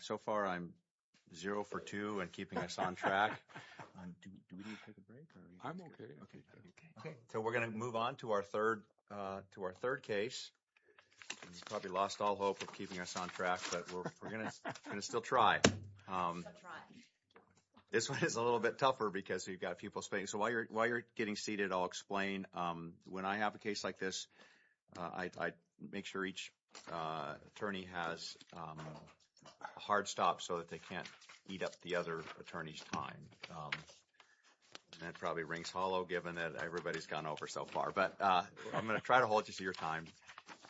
So far, I'm zero for two and keeping us on track. Do we need to take a break? I'm okay. So we're going to move on to our third case. You've probably lost all hope of keeping us on track, but we're going to still try. Still try. This one is a little bit tougher because you've got people speaking. So while you're getting seated, I'll explain. When I have a case like this, I make sure each attorney has a hard stop so that they can't eat up the other attorney's time. That probably rings hollow given that everybody's gone over so far. But I'm going to try to hold you to your time.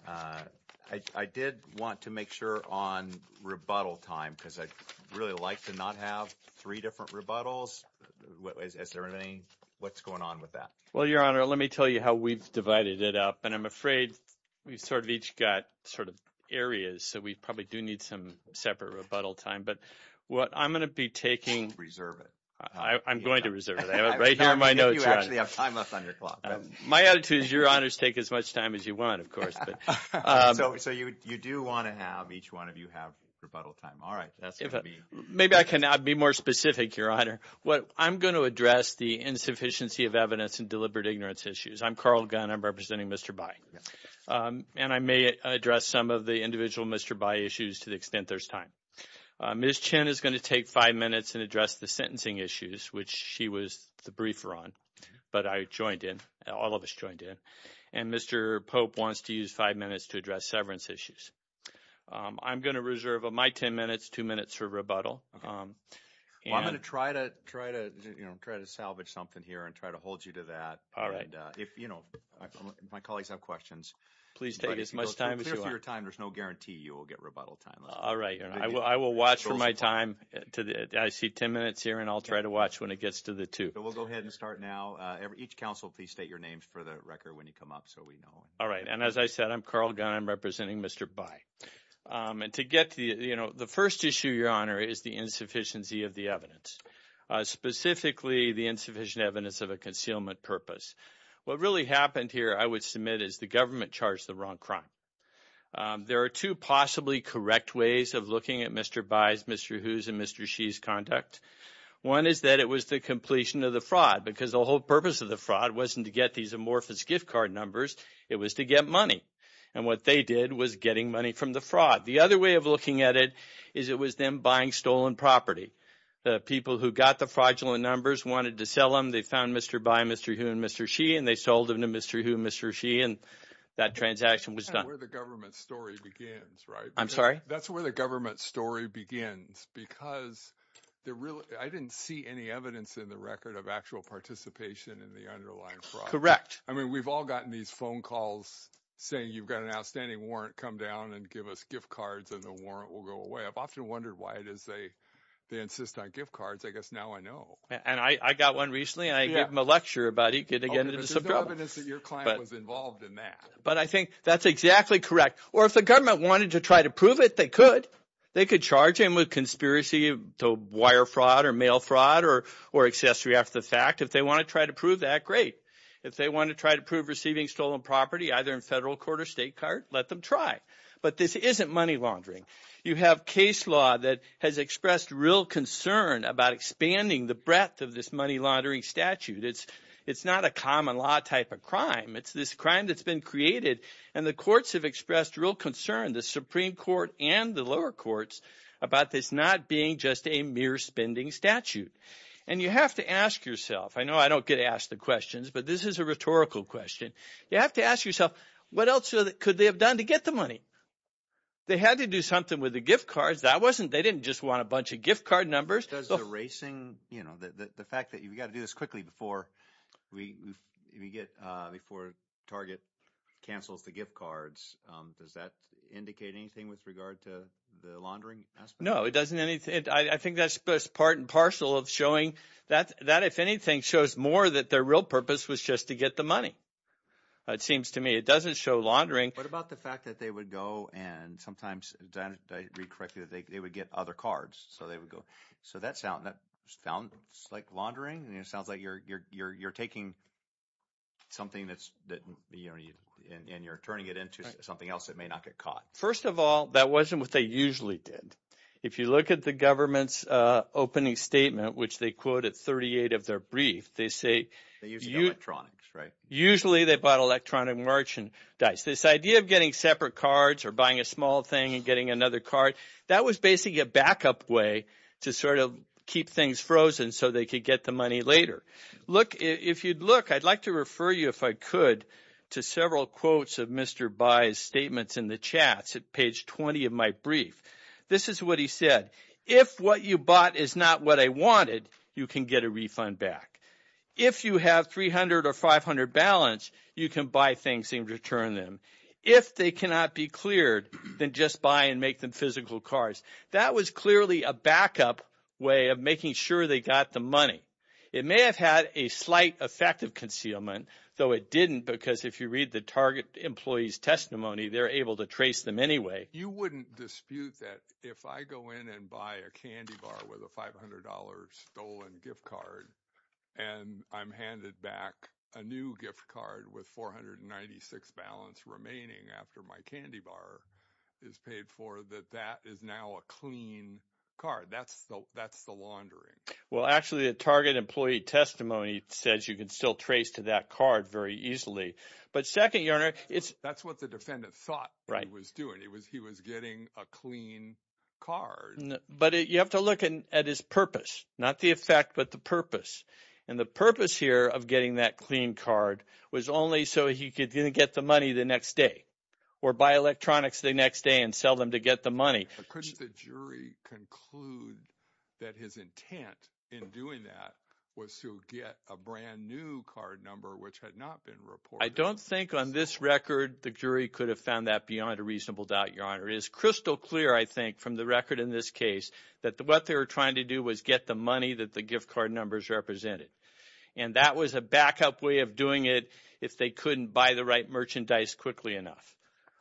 I did want to make sure on rebuttal time because I'd really like to not have three different rebuttals. Is there anything? What's going on with that? Well, Your Honor, let me tell you how we've divided it up, and I'm afraid we've sort of each got sort of areas, so we probably do need some separate rebuttal time. But what I'm going to be taking – Reserve it. I'm going to reserve it. I have it right here in my notes. You actually have time left on your clock. My attitude is Your Honors take as much time as you want, of course. So you do want to have each one of you have rebuttal time. All right. Maybe I can be more specific, Your Honor. I'm going to address the insufficiency of evidence and deliberate ignorance issues. I'm Carl Gunn. I'm representing Mr. Bai. And I may address some of the individual Mr. Bai issues to the extent there's time. Ms. Chen is going to take five minutes and address the sentencing issues, which she was the briefer on, but I joined in. All of us joined in. And Mr. Pope wants to use five minutes to address severance issues. I'm going to reserve my ten minutes, two minutes for rebuttal. I'm going to try to salvage something here and try to hold you to that. My colleagues have questions. Please take as much time as you want. But if you go clear through your time, there's no guarantee you will get rebuttal time. All right. I will watch for my time. I see ten minutes here, and I'll try to watch when it gets to the two. We'll go ahead and start now. Each counsel, please state your names for the record when you come up so we know. All right. And as I said, I'm Carl Gunn. I'm representing Mr. Bai. The first issue, Your Honor, is the insufficiency of the evidence, specifically the insufficient evidence of a concealment purpose. What really happened here, I would submit, is the government charged the wrong crime. There are two possibly correct ways of looking at Mr. Bai's, Mr. Hu's, and Mr. Xi's conduct. One is that it was the completion of the fraud because the whole purpose of the fraud wasn't to get these amorphous gift card numbers. It was to get money. And what they did was getting money from the fraud. The other way of looking at it is it was them buying stolen property. The people who got the fraudulent numbers wanted to sell them. They found Mr. Bai, Mr. Hu, and Mr. Xi, and they sold them to Mr. Hu and Mr. Xi, and that transaction was done. That's where the government story begins, right? I'm sorry? That's where the government story begins because I didn't see any evidence in the record of actual participation in the underlying fraud. Correct. I mean we've all gotten these phone calls saying you've got an outstanding warrant. Come down and give us gift cards, and the warrant will go away. I've often wondered why it is they insist on gift cards. I guess now I know. And I got one recently, and I gave them a lecture about it. There's no evidence that your client was involved in that. But I think that's exactly correct. Or if the government wanted to try to prove it, they could. They could charge him with conspiracy to wire fraud or mail fraud or accessory after the fact. If they want to try to prove that, great. If they want to try to prove receiving stolen property, either in federal court or state court, let them try. But this isn't money laundering. You have case law that has expressed real concern about expanding the breadth of this money laundering statute. It's not a common law type of crime. It's this crime that's been created, and the courts have expressed real concern, the Supreme Court and the lower courts, about this not being just a mere spending statute. And you have to ask yourself. I know I don't get asked the questions, but this is a rhetorical question. You have to ask yourself, what else could they have done to get the money? They had to do something with the gift cards. That wasn't – they didn't just want a bunch of gift card numbers. Does the racing – the fact that you've got to do this quickly before we get – before Target cancels the gift cards, does that indicate anything with regard to the laundering aspect? No, it doesn't anything. I think that's part and parcel of showing that if anything shows more that their real purpose was just to get the money, it seems to me. It doesn't show laundering. What about the fact that they would go and sometimes – did I read correctly that they would get other cards? So they would go – so that sounds like laundering, and it sounds like you're taking something that's – and you're turning it into something else that may not get caught. First of all, that wasn't what they usually did. If you look at the government's opening statement, which they quote at 38 of their brief, they say – They used electronics, right? Usually they bought electronic merchandise. This idea of getting separate cards or buying a small thing and getting another card, that was basically a backup way to sort of keep things frozen so they could get the money later. Look – if you'd look, I'd like to refer you, if I could, to several quotes of Mr. Bai's statements in the chats at page 20 of my brief. This is what he said. If what you bought is not what I wanted, you can get a refund back. If you have 300 or 500 balance, you can buy things and return them. If they cannot be cleared, then just buy and make them physical cards. That was clearly a backup way of making sure they got the money. It may have had a slight effect of concealment, though it didn't because if you read the target employee's testimony, they're able to trace them anyway. You wouldn't dispute that if I go in and buy a candy bar with a $500 stolen gift card and I'm handed back a new gift card with 496 balance remaining after my candy bar is paid for, that that is now a clean card. That's the laundering. Well, actually the target employee testimony says you can still trace to that card very easily. But second, your honor, it's – He was getting a clean card. But you have to look at his purpose, not the effect but the purpose. And the purpose here of getting that clean card was only so he could get the money the next day or buy electronics the next day and sell them to get the money. Couldn't the jury conclude that his intent in doing that was to get a brand new card number which had not been reported? I don't think on this record the jury could have found that beyond a reasonable doubt, your honor. It is crystal clear, I think, from the record in this case that what they were trying to do was get the money that the gift card numbers represented. And that was a backup way of doing it if they couldn't buy the right merchandise quickly enough.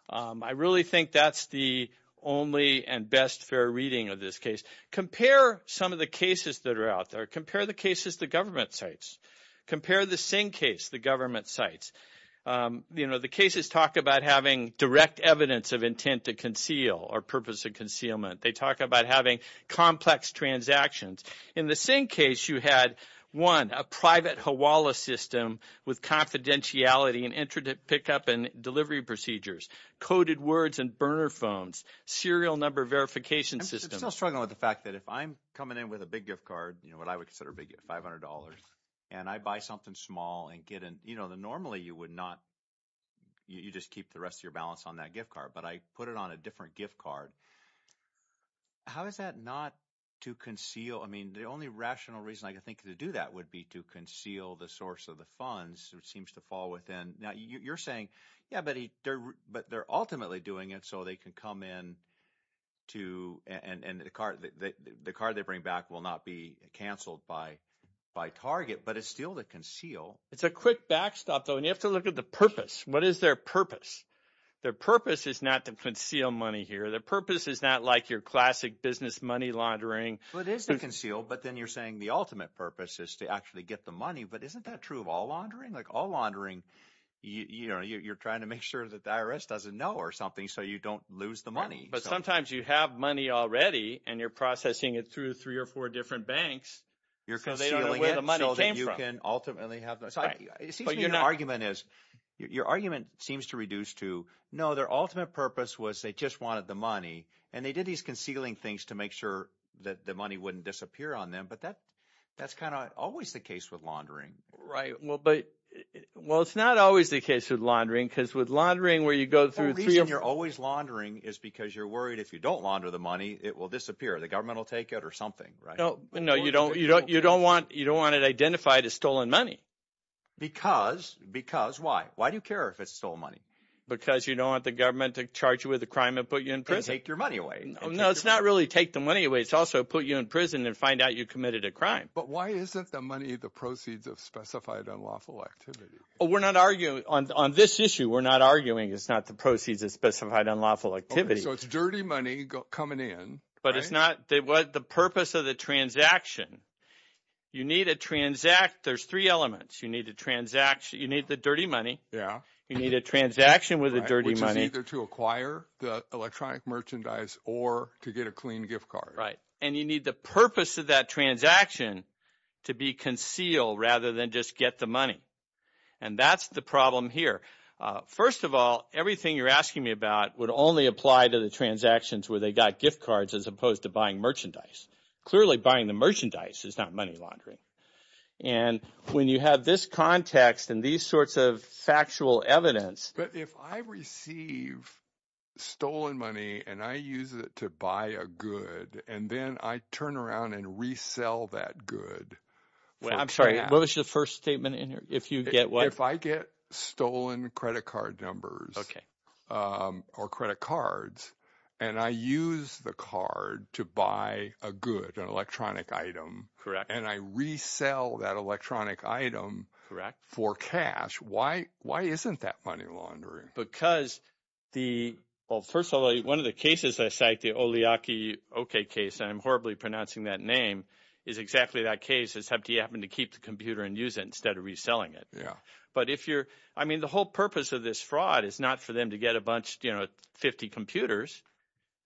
I really think that's the only and best fair reading of this case. Compare some of the cases that are out there. Compare the cases the government cites. Compare the same case the government cites. The cases talk about having direct evidence of intent to conceal or purpose of concealment. They talk about having complex transactions. In the same case, you had, one, a private Hawala system with confidentiality and pickup and delivery procedures, coded words and burner phones, serial number verification system. I'm still struggling with the fact that if I'm coming in with a big gift card, you know, what I would consider a big gift, $500, and I buy something small and get in. You know, normally you would not. You just keep the rest of your balance on that gift card. But I put it on a different gift card. How is that not to conceal? I mean, the only rational reason I could think to do that would be to conceal the source of the funds, which seems to fall within. Now, you're saying, yeah, but they're ultimately doing it so they can come in to – and the card they bring back will not be canceled by Target, but it's still to conceal. It's a quick backstop, though, and you have to look at the purpose. What is their purpose? Their purpose is not to conceal money here. Their purpose is not like your classic business money laundering. Well, it is to conceal, but then you're saying the ultimate purpose is to actually get the money. But isn't that true of all laundering? Like all laundering, you're trying to make sure that the IRS doesn't know or something so you don't lose the money. But sometimes you have money already, and you're processing it through three or four different banks. You're concealing it so that you can ultimately have – It seems to me your argument is – your argument seems to reduce to, no, their ultimate purpose was they just wanted the money, and they did these concealing things to make sure that the money wouldn't disappear on them. But that's kind of always the case with laundering. Right, but – well, it's not always the case with laundering because with laundering where you go through three – The reason you're always laundering is because you're worried if you don't launder the money, it will disappear. The government will take it or something, right? No, you don't want it identified as stolen money. Because why? Why do you care if it's stolen money? Because you don't want the government to charge you with a crime and put you in prison. And take your money away. No, it's not really take the money away. It's also put you in prison and find out you committed a crime. But why isn't the money the proceeds of specified unlawful activity? We're not arguing – on this issue, we're not arguing it's not the proceeds of specified unlawful activity. So it's dirty money coming in. But it's not – the purpose of the transaction, you need a – there's three elements. You need the transaction. You need the dirty money. You need a transaction with the dirty money. Which is either to acquire the electronic merchandise or to get a clean gift card. Right, and you need the purpose of that transaction to be concealed rather than just get the money. And that's the problem here. First of all, everything you're asking me about would only apply to the transactions where they got gift cards as opposed to buying merchandise. Clearly, buying the merchandise is not money laundering. And when you have this context and these sorts of factual evidence – If I receive stolen money and I use it to buy a good and then I turn around and resell that good for cash. I'm sorry. What was the first statement in here? If you get what? If I get stolen credit card numbers or credit cards and I use the card to buy a good, an electronic item. Correct. And I resell that electronic item for cash. Why isn't that money laundering? Because the – well, first of all, one of the cases I cite, the Oleaky case, and I'm horribly pronouncing that name, is exactly that case. It's how do you happen to keep the computer and use it instead of reselling it? Yeah. But if you're – I mean the whole purpose of this fraud is not for them to get a bunch – 50 computers.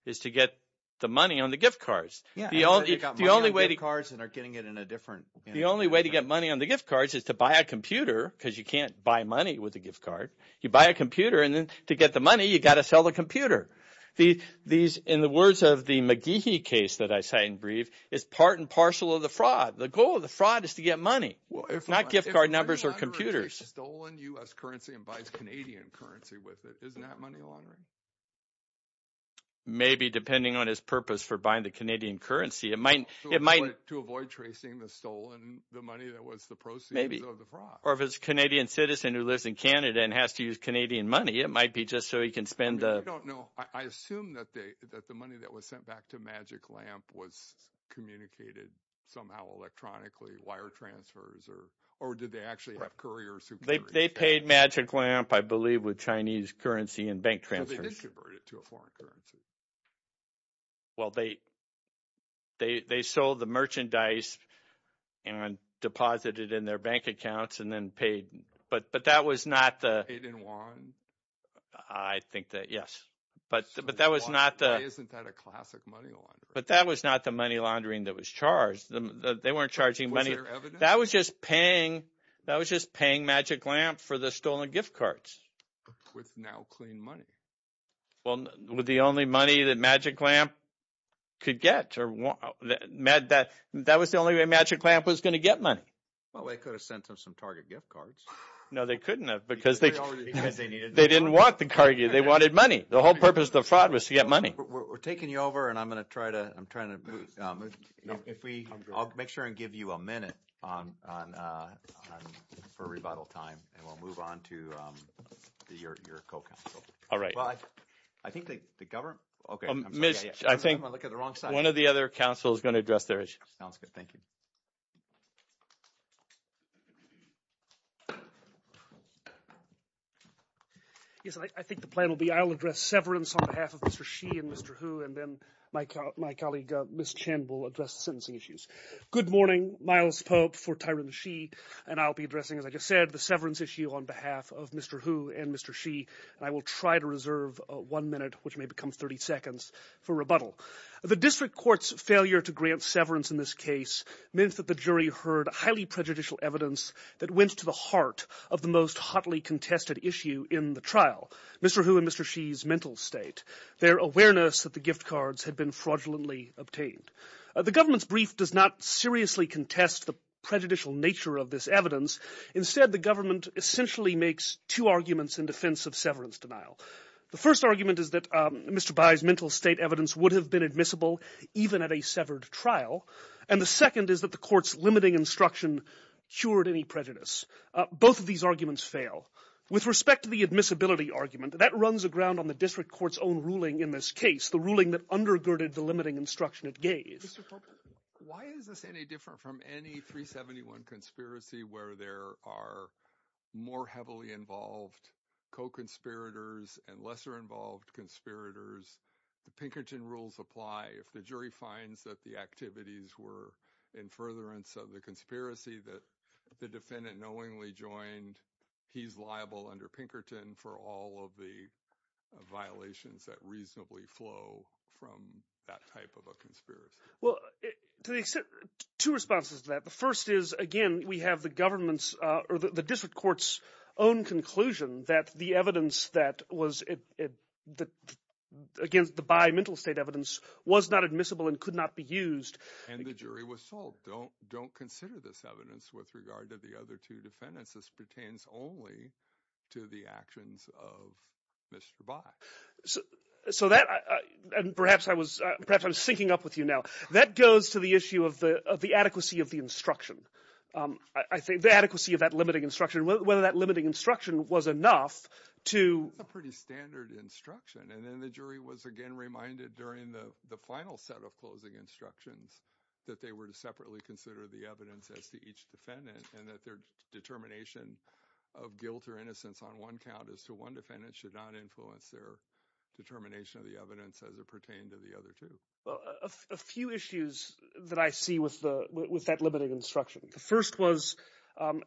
It's to get the money on the gift cards. Yeah, they got money on gift cards and are getting it in a different – The only way to get money on the gift cards is to buy a computer because you can't buy money with a gift card. You buy a computer, and then to get the money, you got to sell the computer. These – in the words of the McGehee case that I cite and brief, it's part and parcel of the fraud. The goal of the fraud is to get money, not gift card numbers or computers. If a money launderer takes stolen U.S. currency and buys Canadian currency with it, isn't that money laundering? Maybe depending on his purpose for buying the Canadian currency. It might – To avoid tracing the stolen – the money that was the proceeds of the fraud. Or if it's a Canadian citizen who lives in Canada and has to use Canadian money, it might be just so he can spend the – I don't know. I assume that the money that was sent back to Magic Lamp was communicated somehow electronically, wire transfers, or did they actually have couriers who carried it? They paid Magic Lamp, I believe, with Chinese currency and bank transfers. They did convert it to a foreign currency. Well, they sold the merchandise and deposited it in their bank accounts and then paid – but that was not the – They didn't want – I think that – yes. But that was not the – Why isn't that a classic money launderer? But that was not the money laundering that was charged. They weren't charging money. Was there evidence? That was just paying Magic Lamp for the stolen gift cards. With now clean money. Well, the only money that Magic Lamp could get – that was the only way Magic Lamp was going to get money. Well, they could have sent them some Target gift cards. No, they couldn't have because they didn't want the – they wanted money. The whole purpose of the fraud was to get money. We're taking you over, and I'm going to try to – I'm trying to – if we – I'll make sure and give you a minute for rebuttal time, and we'll move on to your co-counsel. All right. Well, I think the government – okay. I think one of the other counsels is going to address their issue. Sounds good. Thank you. Yes, I think the plan will be I'll address severance on behalf of Mr. Xi and Mr. Hu, and then my colleague, Ms. Chen, will address the sentencing issues. Good morning. Miles Pope for Tyrone Xi, and I'll be addressing, as I just said, the severance issue on behalf of Mr. Hu and Mr. Xi. I will try to reserve one minute, which may become 30 seconds, for rebuttal. The district court's failure to grant severance in this case meant that the jury heard highly prejudicial evidence that went to the heart of the most hotly contested issue in the trial, Mr. Hu and Mr. Xi's mental state, their awareness that the gift cards had been fraudulently obtained. The government's brief does not seriously contest the prejudicial nature of this evidence. Instead, the government essentially makes two arguments in defense of severance denial. The first argument is that Mr. Bai's mental state evidence would have been admissible even at a severed trial. And the second is that the court's limiting instruction cured any prejudice. Both of these arguments fail. With respect to the admissibility argument, that runs aground on the district court's own ruling in this case, the ruling that undergirded the limiting instruction it gave. Why is this any different from any 371 conspiracy where there are more heavily involved co-conspirators and lesser involved conspirators? The Pinkerton rules apply. If the jury finds that the activities were in furtherance of the conspiracy that the defendant knowingly joined, he's liable under Pinkerton for all of the violations that reasonably flow from that type of a conspiracy. Well, to the extent – two responses to that. The first is, again, we have the government's – or the district court's own conclusion that the evidence that was – against the Bai mental state evidence was not admissible and could not be used. And the jury was told, don't consider this evidence with regard to the other two defendants. This pertains only to the actions of Mr. Bai. So that – and perhaps I was – perhaps I'm syncing up with you now. That goes to the issue of the adequacy of the instruction. I think the adequacy of that limiting instruction, whether that limiting instruction was enough to – It's a pretty standard instruction. And then the jury was, again, reminded during the final set of closing instructions that they were to separately consider the evidence as to each defendant and that their determination of guilt or innocence on one count as to one defendant should not influence their – determination of the evidence as it pertained to the other two. Well, a few issues that I see with the – with that limiting instruction. The first was,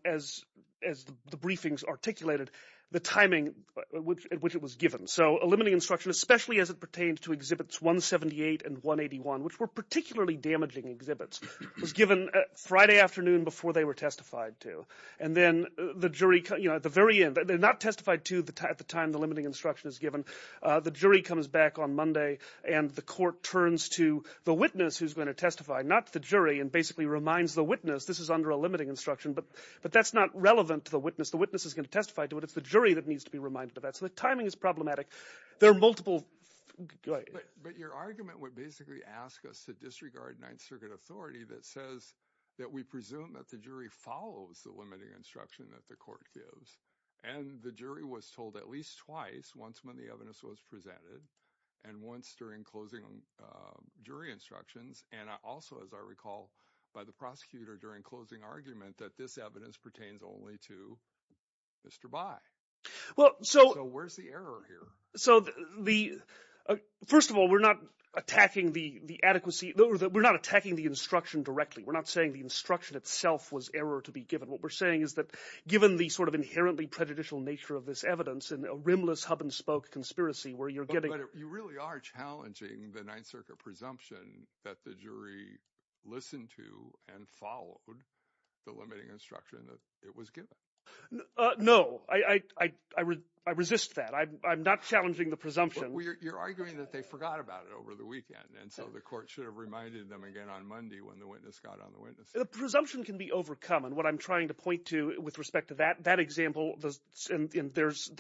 as the briefings articulated, the timing at which it was given. So a limiting instruction, especially as it pertains to Exhibits 178 and 181, which were particularly damaging exhibits, was given Friday afternoon before they were testified to. And then the jury – at the very end – they're not testified to at the time the limiting instruction is given. The jury comes back on Monday and the court turns to the witness who's going to testify, not the jury, and basically reminds the witness this is under a limiting instruction. But that's not relevant to the witness. The witness is going to testify to it. It's the jury that needs to be reminded of that. So the timing is problematic. There are multiple – go ahead. But your argument would basically ask us to disregard Ninth Circuit authority that says that we presume that the jury follows the limiting instruction that the court gives. And the jury was told at least twice, once when the evidence was presented and once during closing jury instructions. And also, as I recall, by the prosecutor during closing argument that this evidence pertains only to Mr. Bai. So where's the error here? So the – first of all, we're not attacking the adequacy – we're not attacking the instruction directly. We're not saying the instruction itself was error to be given. What we're saying is that given the sort of inherently prejudicial nature of this evidence and a rimless hub-and-spoke conspiracy where you're getting – But you really are challenging the Ninth Circuit presumption that the jury listened to and followed the limiting instruction that it was given. No. I resist that. I'm not challenging the presumption. You're arguing that they forgot about it over the weekend. And so the court should have reminded them again on Monday when the witness got on the witness stand. The presumption can be overcome. And what I'm trying to point to with respect to that example – and there's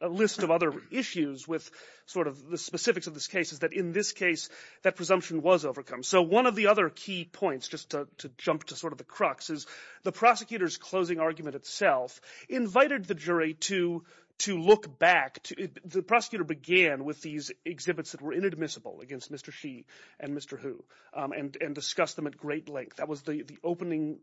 a list of other issues with sort of the specifics of this case – is that in this case, that presumption was overcome. So one of the other key points, just to jump to sort of the crux, is the prosecutor's closing argument itself invited the jury to look back. The prosecutor began with these exhibits that were inadmissible against Mr. Xi and Mr. Hu and discussed them at great length. That was the opening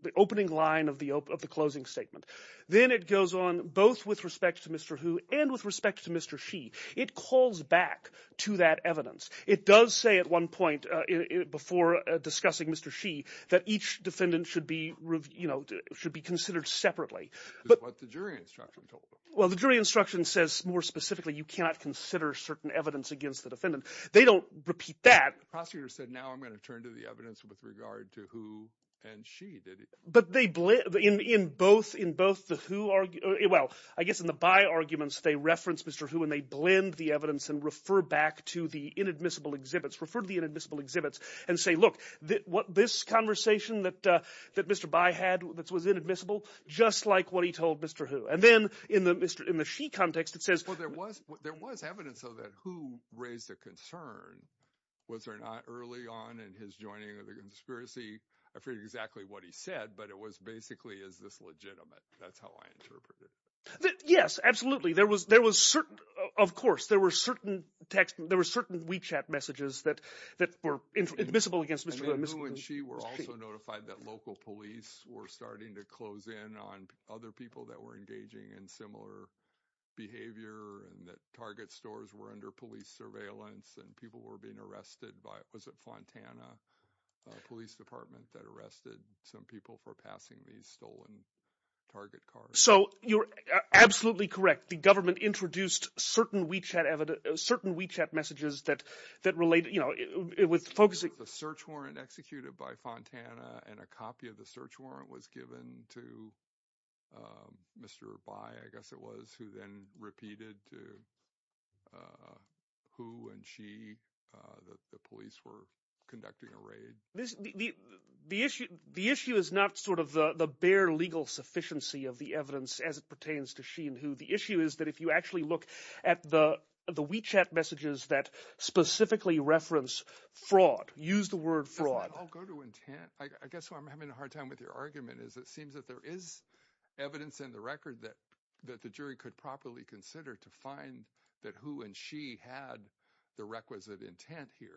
line of the closing statement. Then it goes on both with respect to Mr. Hu and with respect to Mr. Xi. It calls back to that evidence. It does say at one point before discussing Mr. Xi that each defendant should be considered separately. That's what the jury instruction told us. Well, the jury instruction says more specifically you cannot consider certain evidence against the defendant. They don't repeat that. The prosecutor said now I'm going to turn to the evidence with regard to Hu and Xi. But they – in both the Hu – well, I guess in the Bai arguments they reference Mr. Hu and they blend the evidence and refer back to the inadmissible exhibits, refer to the inadmissible exhibits and say, look, this conversation that Mr. Bai had that was inadmissible, just like what he told Mr. Hu. And then in the Xi context it says – There was evidence of that Hu raised a concern, was there not, early on in his joining of the conspiracy. I forget exactly what he said, but it was basically is this legitimate. That's how I interpret it. Yes, absolutely. There was certain – of course, there were certain text – there were certain WeChat messages that were admissible against Mr. Hu. Hu and Xi were also notified that local police were starting to close in on other people that were engaging in similar behavior and that Target stores were under police surveillance and people were being arrested by – was it Fontana Police Department that arrested some people for passing these stolen Target cars? So you're absolutely correct. The government introduced certain WeChat messages that related – with focusing – There was a search warrant executed by Fontana and a copy of the search warrant was given to Mr. Bai, I guess it was, who then repeated to Hu and Xi that the police were conducting a raid. The issue is not sort of the bare legal sufficiency of the evidence as it pertains to Xi and Hu. The issue is that if you actually look at the WeChat messages that specifically reference fraud, use the word fraud. I'll go to intent. I guess what I'm having a hard time with your argument is it seems that there is evidence in the record that the jury could properly consider to find that Hu and Xi had the requisite intent here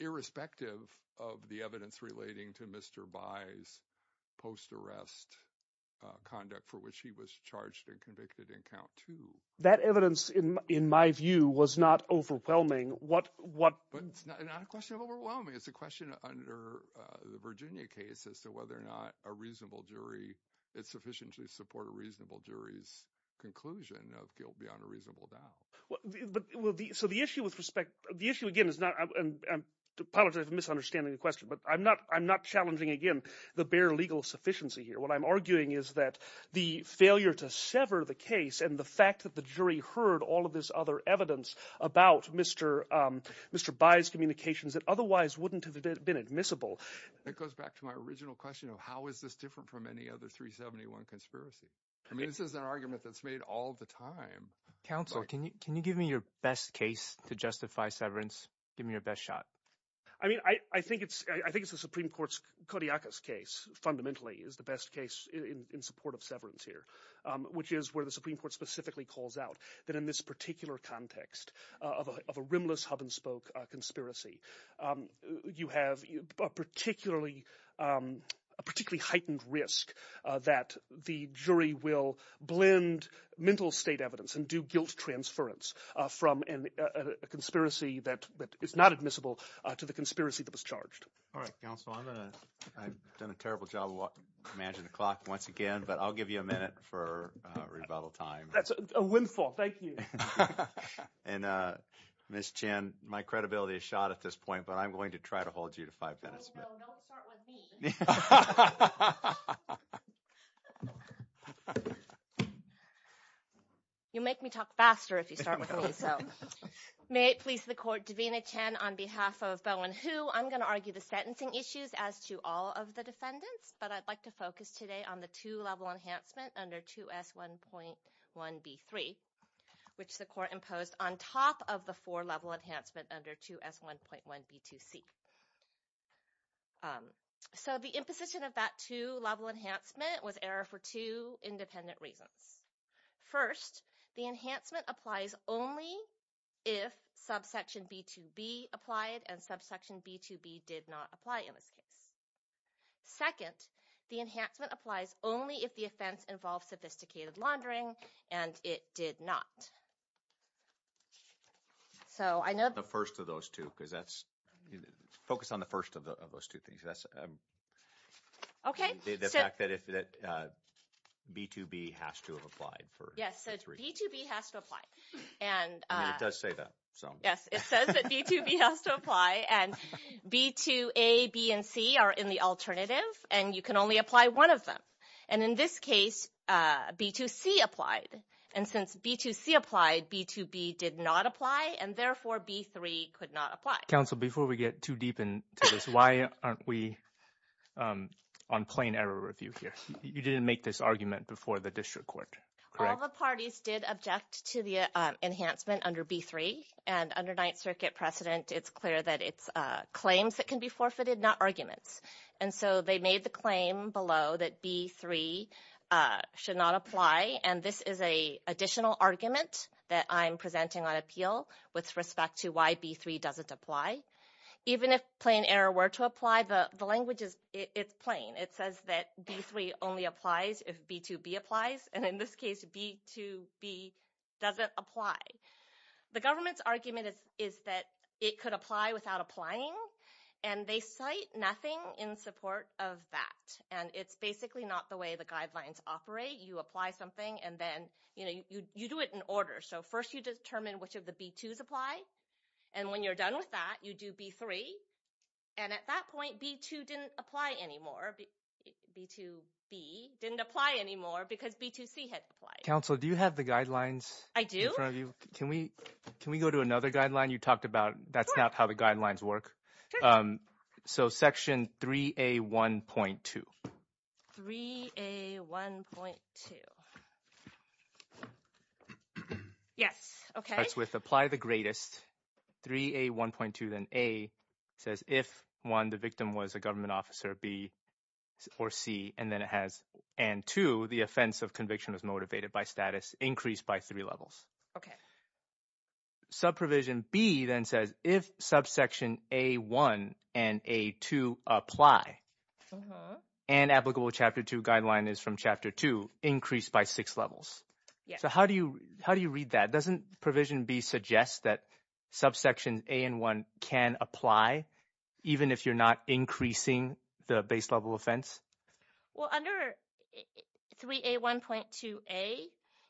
irrespective of the evidence relating to Mr. Bai's post-arrest conduct for which he was charged and convicted in count two. That evidence, in my view, was not overwhelming. But it's not a question of overwhelming. It's a question under the Virginia case as to whether or not a reasonable jury – it's sufficient to support a reasonable jury's conclusion of guilt beyond a reasonable doubt. So the issue with respect – the issue again is not – I apologize for misunderstanding the question, but I'm not challenging again the bare legal sufficiency here. What I'm arguing is that the failure to sever the case and the fact that the jury heard all of this other evidence about Mr. Bai's communications that otherwise wouldn't have been admissible. It goes back to my original question of how is this different from any other 371 conspiracy. I mean this is an argument that's made all the time. Counsel, can you give me your best case to justify severance? Give me your best shot. I mean I think it's the Supreme Court's – Kodiaka's case fundamentally is the best case in support of severance here, which is where the Supreme Court specifically calls out that in this particular context of a rimless hub-and-spoke conspiracy, you have a particularly heightened risk that the jury will blend mental state evidence. And do guilt transference from a conspiracy that is not admissible to the conspiracy that was charged. All right, counsel. I'm going to – I've done a terrible job of managing the clock once again, but I'll give you a minute for rebuttal time. That's a windfall. Thank you. And Ms. Chen, my credibility is shot at this point, but I'm going to try to hold you to five minutes. Oh, no. Don't start with me. You'll make me talk faster if you start with me, so may it please the court. Davina Chen on behalf of Boe and Hu. I'm going to argue the sentencing issues as to all of the defendants, but I'd like to focus today on the two-level enhancement under 2S1.1B3, which the court imposed on top of the four-level enhancement under 2S1.1B2C. So the imposition of that two-level enhancement was error for two independent reasons. First, the enhancement applies only if subsection B2B applied and subsection B2B did not apply in this case. Second, the enhancement applies only if the offense involves sophisticated laundering, and it did not. So I know the first of those two, because that's – focus on the first of those two things. That's the fact that B2B has to have applied. Yes, B2B has to apply. And it does say that. Yes, it says that B2B has to apply, and B2A, B, and C are in the alternative, and you can only apply one of them. And in this case, B2C applied. And since B2C applied, B2B did not apply, and therefore, B3 could not apply. Counsel, before we get too deep into this, why aren't we on plain error review here? You didn't make this argument before the district court, correct? All the parties did object to the enhancement under B3, and under Ninth Circuit precedent, it's clear that it's claims that can be forfeited, not arguments. And so they made the claim below that B3 should not apply, and this is an additional argument that I'm presenting on appeal with respect to why B3 doesn't apply. Even if plain error were to apply, the language is – it's plain. It says that B3 only applies if B2B applies, and in this case, B2B doesn't apply. The government's argument is that it could apply without applying, and they cite nothing in support of that. And it's basically not the way the guidelines operate. You apply something, and then – you do it in order. So first you determine which of the B2s apply, and when you're done with that, you do B3. And at that point, B2 didn't apply anymore. B2B didn't apply anymore because B2C had applied. Counsel, do you have the guidelines in front of you? Can we go to another guideline you talked about? That's not how the guidelines work. So section 3A1.2. 3A1.2. Yes, okay. That's with apply the greatest. 3A1.2 then A says if, one, the victim was a government officer, B or C, and then it has – and two, the offense of conviction is motivated by status increased by three levels. Okay. Subprovision B then says if subsection A1 and A2 apply, an applicable Chapter 2 guideline is from Chapter 2 increased by six levels. Yes. So how do you read that? Doesn't Provision B suggest that subsection A and 1 can apply even if you're not increasing the base level offense? Well, under 3A1.2A,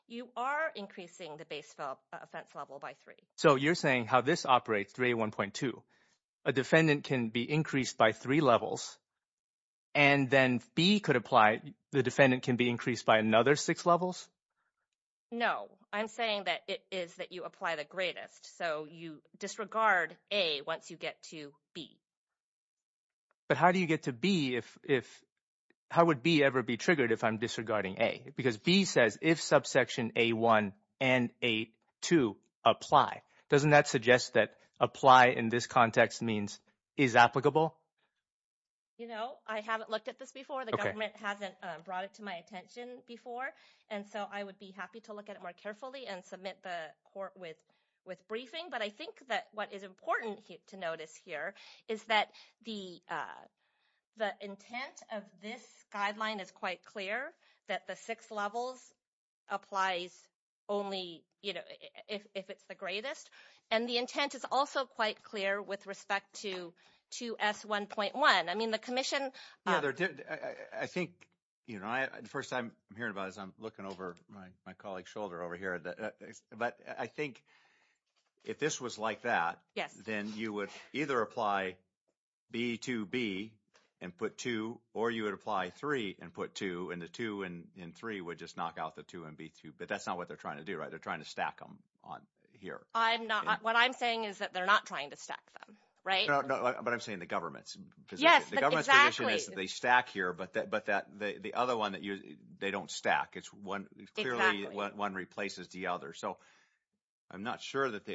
you are increasing the base level offense level by three. So you're saying how this operates, 3A1.2, a defendant can be increased by three levels and then B could apply – the defendant can be increased by another six levels? No. I'm saying that it is that you apply the greatest. So you disregard A once you get to B. But how do you get to B if – how would B ever be triggered if I'm disregarding A? Because B says if subsection A1 and A2 apply. Doesn't that suggest that apply in this context means is applicable? You know, I haven't looked at this before. The government hasn't brought it to my attention before, and so I would be happy to look at it more carefully and submit the court with briefing. But I think that what is important to notice here is that the intent of this guideline is quite clear, that the six levels applies only, you know, if it's the greatest. And the intent is also quite clear with respect to 2S1.1. I mean, the commission— Yeah, I think, you know, the first time I'm hearing about it is I'm looking over my colleague's shoulder over here. But I think if this was like that, then you would either apply B2B and put 2, or you would apply 3 and put 2, and the 2 and 3 would just knock out the 2 and B2. But that's not what they're trying to do, right? They're trying to stack them on here. I'm not. What I'm saying is that they're not trying to stack them, right? But I'm saying the government's position. Yes, but exactly. The government's position is that they stack here, but the other one, they don't stack. It's clearly one replaces the other. So I'm not sure that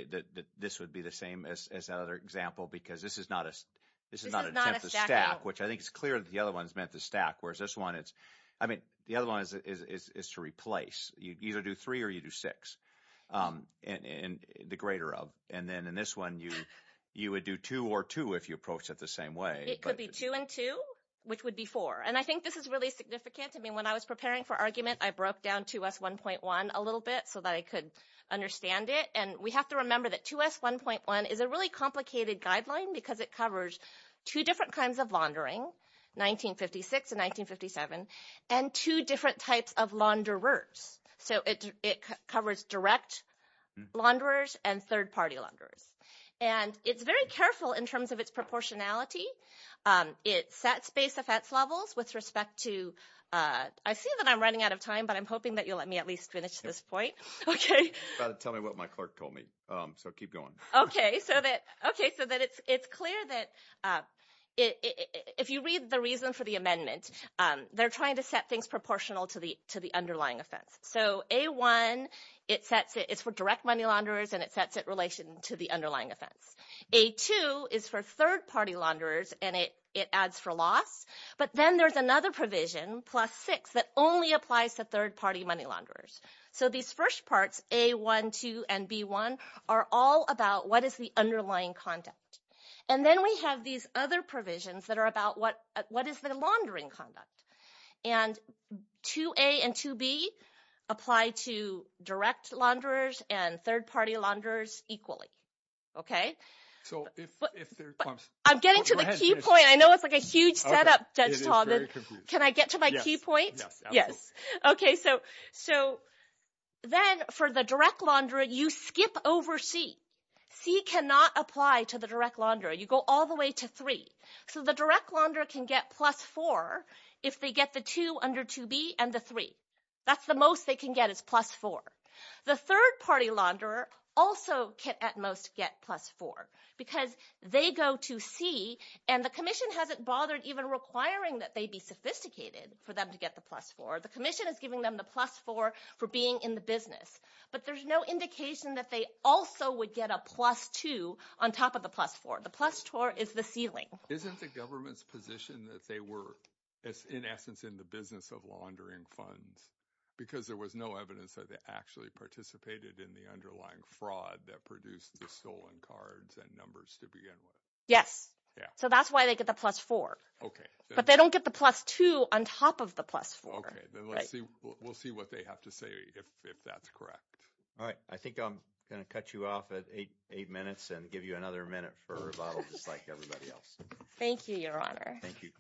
this would be the same as that other example because this is not an attempt to stack, which I think it's clear that the other one's meant to stack, whereas this one, it's—I mean, the other one is to replace. You either do 3 or you do 6, the greater of. And then in this one, you would do 2 or 2 if you approach it the same way. It could be 2 and 2, which would be 4. And I think this is really significant. I mean, when I was preparing for argument, I broke down 2S1.1 a little bit so that I could understand it. And we have to remember that 2S1.1 is a really complicated guideline because it covers two different kinds of laundering, 1956 and 1957, and two different types of launderers. So it covers direct launderers and third-party launderers. And it's very careful in terms of its proportionality. It sets base offense levels with respect to—I see that I'm running out of time, but I'm hoping that you'll let me at least finish this point. I'm about to tell me what my clerk told me, so keep going. Okay, so that it's clear that if you read the reason for the amendment, they're trying to set things proportional to the underlying offense. So A1, it's for direct money launderers, and it sets it in relation to the underlying offense. A2 is for third-party launderers, and it adds for loss. But then there's another provision, plus six, that only applies to third-party money launderers. So these first parts, A1, 2, and B1, are all about what is the underlying conduct. And then we have these other provisions that are about what is the laundering conduct. And 2A and 2B apply to direct launderers and third-party launderers equally. Okay? I'm getting to the key point. I know it's like a huge setup, Judge Todd. Can I get to my key point? Yes. Okay, so then for the direct launderer, you skip over C. C cannot apply to the direct launderer. You go all the way to three. So the direct launderer can get plus four if they get the two under 2B and the three. That's the most they can get is plus four. The third-party launderer also can at most get plus four because they go to C, and the commission hasn't bothered even requiring that they be sophisticated for them to get the plus four. The commission is giving them the plus four for being in the business. But there's no indication that they also would get a plus two on top of the plus four. The plus four is the ceiling. Isn't the government's position that they were, in essence, in the business of laundering funds because there was no evidence that they actually participated in the underlying fraud that produced the stolen cards and numbers to begin with? So that's why they get the plus four. But they don't get the plus two on top of the plus four. Okay, then we'll see what they have to say if that's correct. All right. I think I'm going to cut you off at eight minutes and give you another minute for rebuttal just like everybody else. Thank you, Your Honor. Thank you.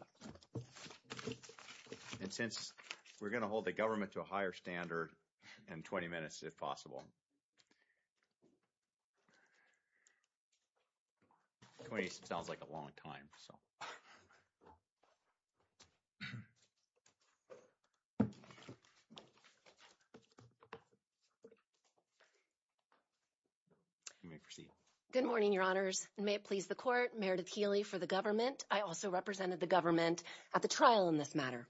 And since we're going to hold the government to a higher standard in 20 minutes if possible. 20 sounds like a long time, so. You may proceed. Good morning, Your Honors. May it please the court, Meredith Healy for the government. I also represented the government at the trial in this matter.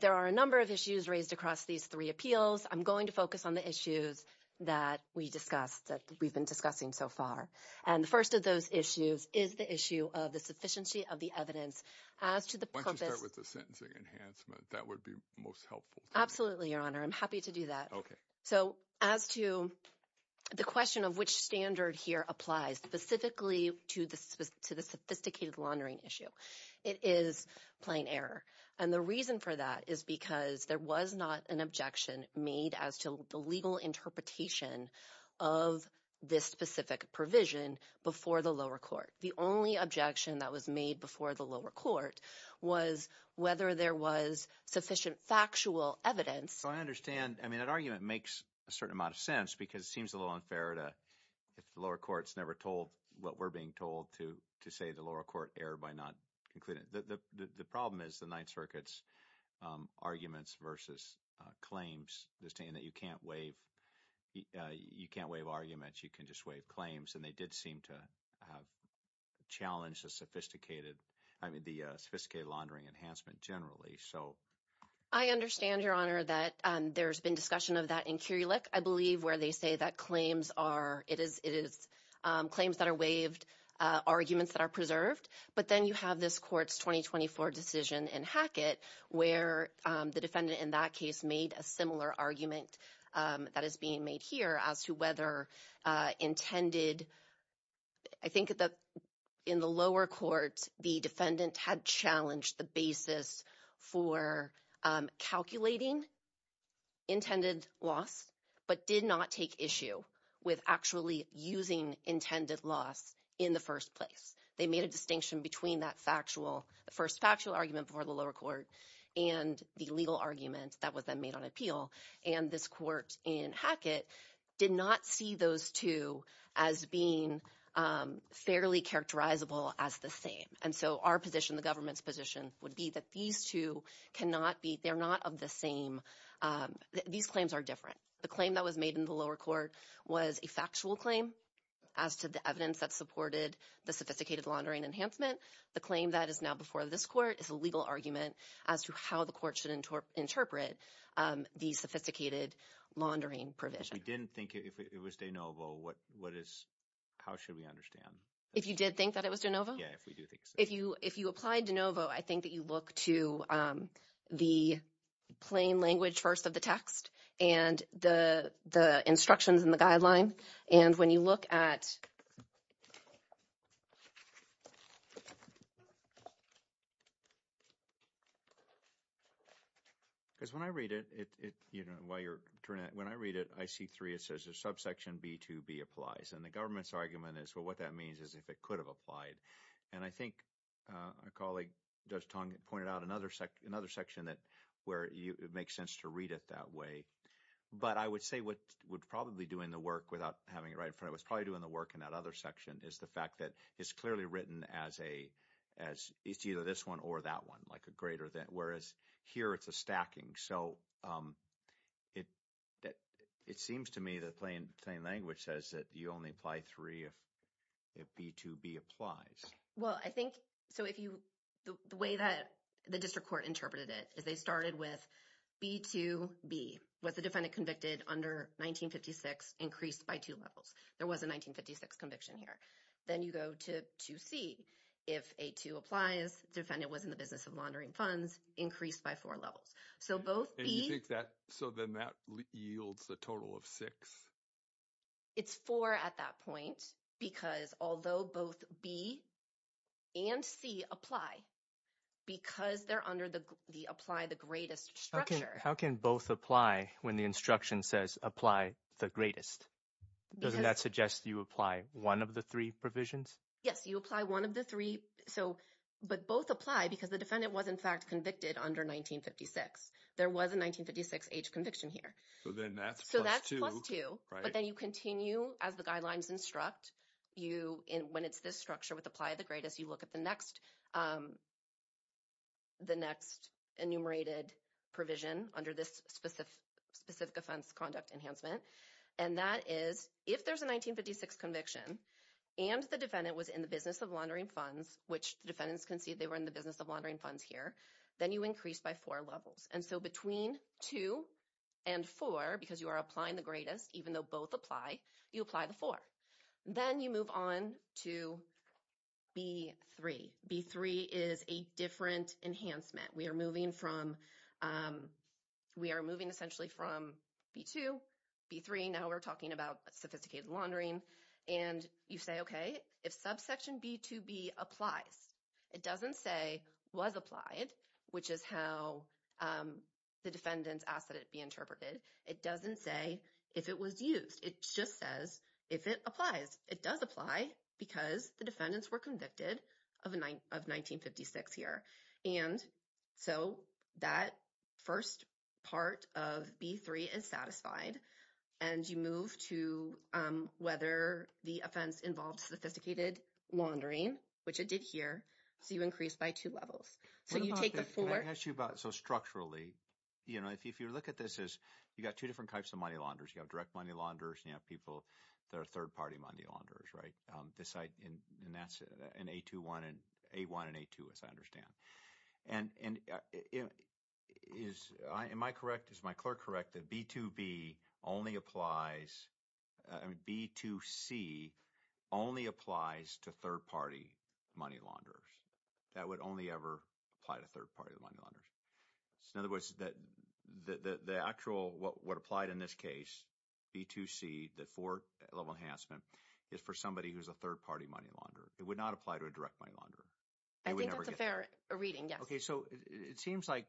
There are a number of issues raised across these three appeals. I'm going to focus on the issues that we discussed, that we've been discussing so far. And the first of those issues is the issue of the sufficiency of the evidence. Why don't you start with the sentencing enhancement? That would be most helpful to me. Absolutely, Your Honor. I'm happy to do that. Okay. So as to the question of which standard here applies specifically to the sophisticated laundering issue, it is plain error. And the reason for that is because there was not an objection made as to the legal interpretation of this specific provision before the lower court. The only objection that was made before the lower court was whether there was sufficient factual evidence. So I understand. I mean, that argument makes a certain amount of sense because it seems a little unfair if the lower court is never told what we're being told to say the lower court erred by not concluding. The problem is the Ninth Circuit's arguments versus claims, the statement that you can't waive arguments, you can just waive claims. And they did seem to challenge the sophisticated laundering enhancement generally. I understand, Your Honor, that there's been discussion of that in Curulic, I believe, where they say that it is claims that are waived, arguments that are preserved. But then you have this court's 2024 decision in Hackett where the defendant in that case made a similar argument that is being made here as to whether intended. I think that in the lower court, the defendant had challenged the basis for calculating intended loss, but did not take issue with actually using intended loss in the first place. They made a distinction between that factual, the first factual argument before the lower court and the legal argument that was then made on appeal. And this court in Hackett did not see those two as being fairly characterizable as the same. And so our position, the government's position, would be that these two cannot be, they're not of the same, these claims are different. The claim that was made in the lower court was a factual claim as to the evidence that supported the sophisticated laundering enhancement. The claim that is now before this court is a legal argument as to how the court should interpret the sophisticated laundering provision. If we didn't think it was de novo, what is, how should we understand? If you did think that it was de novo? Yeah, if we do think so. If you applied de novo, I think that you look to the plain language first of the text and the instructions in the guideline. And when you look at. Because when I read it, it, you know, while you're turning it, when I read it, I see three, it says there's subsection B2B applies. And the government's argument is, well, what that means is if it could have applied. And I think our colleague pointed out another section that where it makes sense to read it that way. But I would say what would probably do in the work without having it right in front of us, probably doing the work in that other section, is the fact that it's clearly written as a, as it's either this one or that one, like a greater than, whereas here it's a stacking. So, it seems to me that plain language says that you only apply three if B2B applies. Well, I think, so if you, the way that the district court interpreted it is they started with B2B. Was the defendant convicted under 1956 increased by two levels? There was a 1956 conviction here. Then you go to 2C. If A2 applies, defendant was in the business of laundering funds, increased by four levels. So, both B. And you think that, so then that yields a total of six? It's four at that point because although both B and C apply, because they're under the apply the greatest structure. How can both apply when the instruction says apply the greatest? Because. Doesn't that suggest you apply one of the three provisions? Yes, you apply one of the three. So, but both apply because the defendant was in fact convicted under 1956. There was a 1956 age conviction here. So, then that's plus two. So, that's plus two. Right. But then you continue as the guidelines instruct. You, when it's this structure with apply the greatest, you look at the next enumerated provision under this specific offense conduct enhancement. And that is, if there's a 1956 conviction, and the defendant was in the business of laundering funds, which the defendants concede they were in the business of laundering funds here, then you increase by four levels. And so, between two and four, because you are applying the greatest, even though both apply, you apply the four. Then you move on to B3. B3 is a different enhancement. We are moving from, we are moving essentially from B2, B3, now we're talking about sophisticated laundering. And you say, okay, if subsection B2B applies, it doesn't say was applied, which is how the defendants ask that it be interpreted. It doesn't say if it was used. It just says if it applies. It does apply because the defendants were convicted of 1956 here. And so, that first part of B3 is satisfied. And you move to whether the offense involved sophisticated laundering, which it did here. So, you increase by two levels. So, you take the four. Can I ask you about, so structurally, you know, if you look at this as, you've got two different types of money launderers. You have direct money launderers and you have people that are third-party money launderers, right? And that's an A1 and A2, as I understand. And is my clerk correct that B2C only applies to third-party money launderers? That would only ever apply to third-party money launderers? So, in other words, the actual, what applied in this case, B2C, the four-level enhancement, is for somebody who's a third-party money launderer. It would not apply to a direct money launderer. I think that's a fair reading, yes. Okay. So, it seems like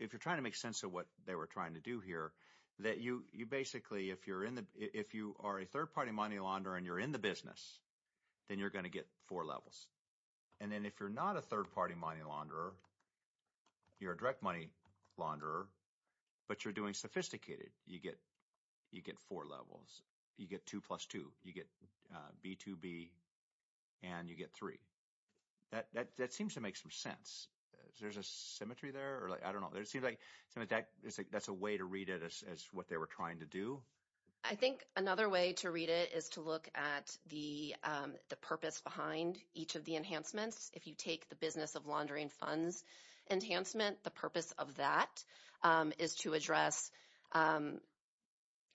if you're trying to make sense of what they were trying to do here, that you basically, if you are a third-party money launderer and you're in the business, then you're going to get four levels. And then if you're not a third-party money launderer, you're a direct money launderer, but you're doing sophisticated, you get four levels. You get two plus two. You get B2B and you get three. That seems to make some sense. There's a symmetry there? I don't know. It seems like that's a way to read it as what they were trying to do. I think another way to read it is to look at the purpose behind each of the enhancements. If you take the business of laundering funds enhancement, the purpose of that is to address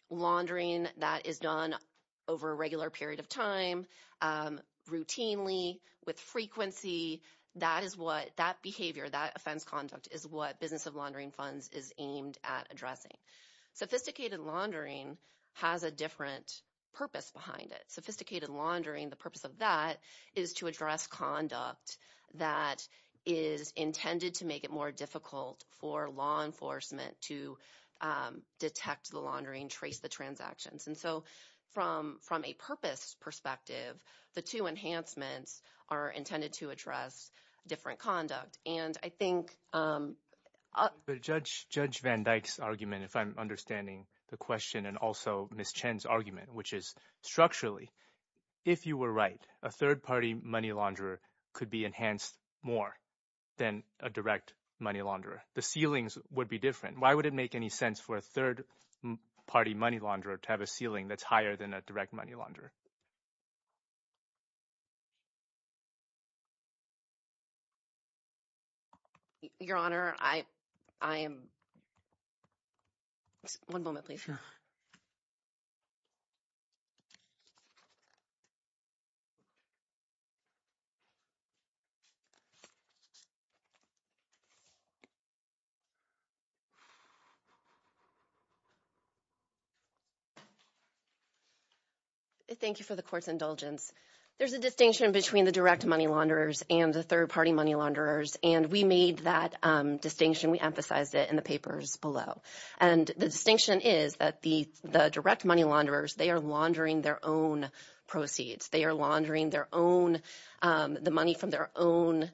laundering that is done over a regular period of time, routinely, with frequency. That behavior, that offense conduct, is what business of laundering funds is aimed at addressing. Sophisticated laundering has a different purpose behind it. Sophisticated laundering, the purpose of that is to address conduct that is intended to make it more difficult for law enforcement to detect the laundering, trace the transactions. And so from a purpose perspective, the two enhancements are intended to address different conduct. Judge Van Dyke's argument, if I'm understanding the question, and also Ms. Chen's argument, which is structurally, if you were right, a third-party money launderer could be enhanced more than a direct money launderer. The ceilings would be different. Why would it make any sense for a third-party money launderer to have a ceiling that's higher than a direct money launderer? Your Honor, I am – one moment, please. Thank you for the court's indulgence. There's a distinction between the direct money launderers and the third-party money launderers, and we made that distinction. We emphasized it in the papers below. And the distinction is that the direct money launderers, they are laundering their own proceeds. They are laundering their own – the money from their own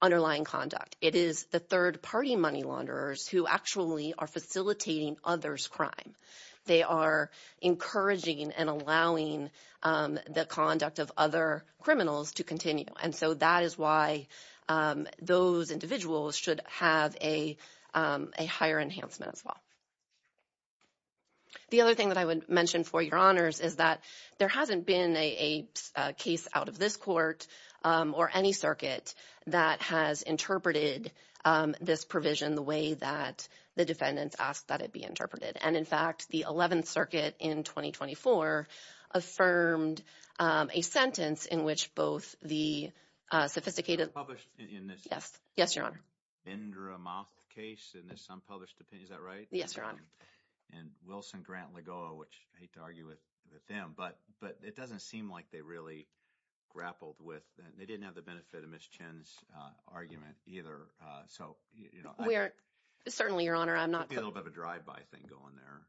underlying conduct. It is the third-party money launderers who actually are facilitating others' crime. They are encouraging and allowing the conduct of other criminals to continue. And so that is why those individuals should have a higher enhancement as well. The other thing that I would mention for your honors is that there hasn't been a case out of this court or any circuit that has interpreted this provision the way that the defendants asked that it be interpreted. And, in fact, the 11th Circuit in 2024 affirmed a sentence in which both the sophisticated – It was published in this – Yes. Yes, Your Honor. Indra Moth case in this unpublished – is that right? Yes, Your Honor. And Wilson Grant Lagoa, which I hate to argue with them, but it doesn't seem like they really grappled with – they didn't have the benefit of Ms. Chinn's argument either. So, you know, I – We are – certainly, Your Honor, I'm not – There's a little bit of a drive-by thing going there.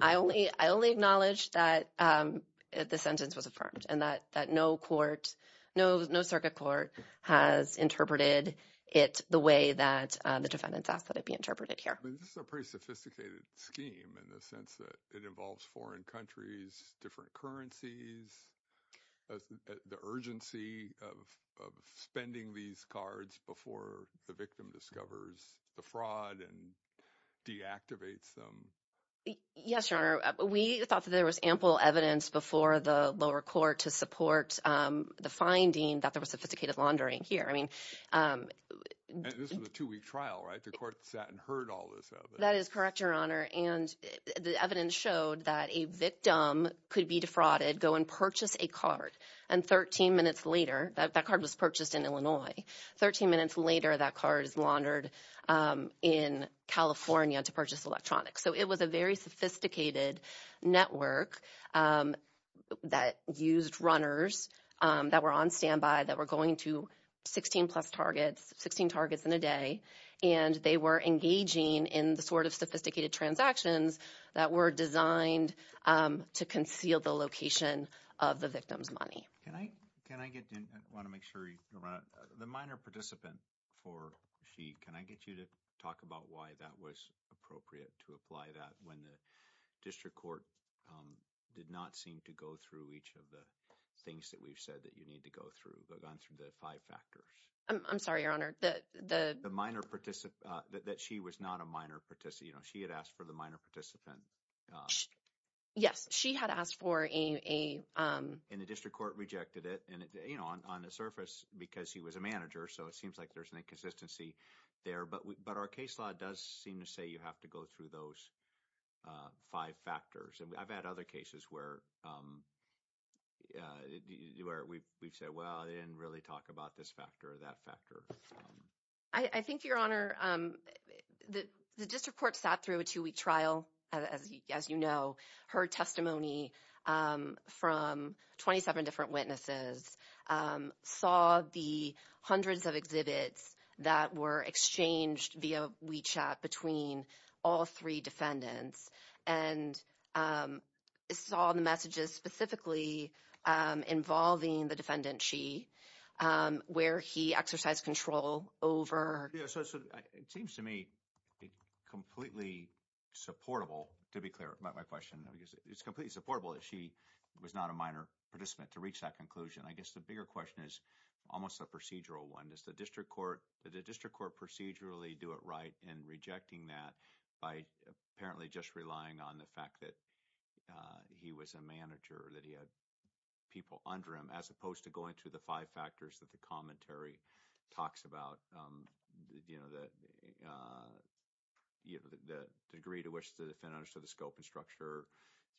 I only acknowledge that the sentence was affirmed and that no court – no circuit court has interpreted it the way that the defendants asked that it be interpreted here. I mean this is a pretty sophisticated scheme in the sense that it involves foreign countries, different currencies, the urgency of spending these cards before the victim discovers the fraud and deactivates them. Yes, Your Honor. We thought that there was ample evidence before the lower court to support the finding that there was sophisticated laundering here. I mean – And this was a two-week trial, right? The court sat and heard all this evidence. That is correct, Your Honor, and the evidence showed that a victim could be defrauded, go and purchase a card, and 13 minutes later – that card was purchased in Illinois. Thirteen minutes later, that card is laundered in California to purchase electronics. So it was a very sophisticated network that used runners that were on standby, that were going to 16-plus targets, 16 targets in a day, and they were engaging in the sort of sophisticated transactions that were designed to conceal the location of the victim's money. Can I get – I want to make sure you – the minor participant for Xi, can I get you to talk about why that was appropriate to apply that when the district court did not seem to go through each of the things that we've said that you need to go through. We've gone through the five factors. I'm sorry, Your Honor. The – The minor participant – that Xi was not a minor participant. You know, Xi had asked for the minor participant – Yes, Xi had asked for a – And the district court rejected it, and, you know, on the surface, because he was a manager, so it seems like there's an inconsistency there. But our case law does seem to say you have to go through those five factors. And I've had other cases where we've said, well, they didn't really talk about this factor or that factor. I think, Your Honor, the district court sat through a two-week trial, as you know. Her testimony from 27 different witnesses saw the hundreds of exhibits that were exchanged via WeChat between all three defendants and saw the messages specifically involving the defendant Xi where he exercised control over – Yeah, so it seems to me completely supportable, to be clear about my question. It's completely supportable that Xi was not a minor participant to reach that conclusion. I guess the bigger question is almost a procedural one. Did the district court procedurally do it right in rejecting that by apparently just relying on the fact that he was a manager, that he had people under him, as opposed to going through the five factors that the commentary talks about? You know, the degree to which the defendant understood the scope and structure,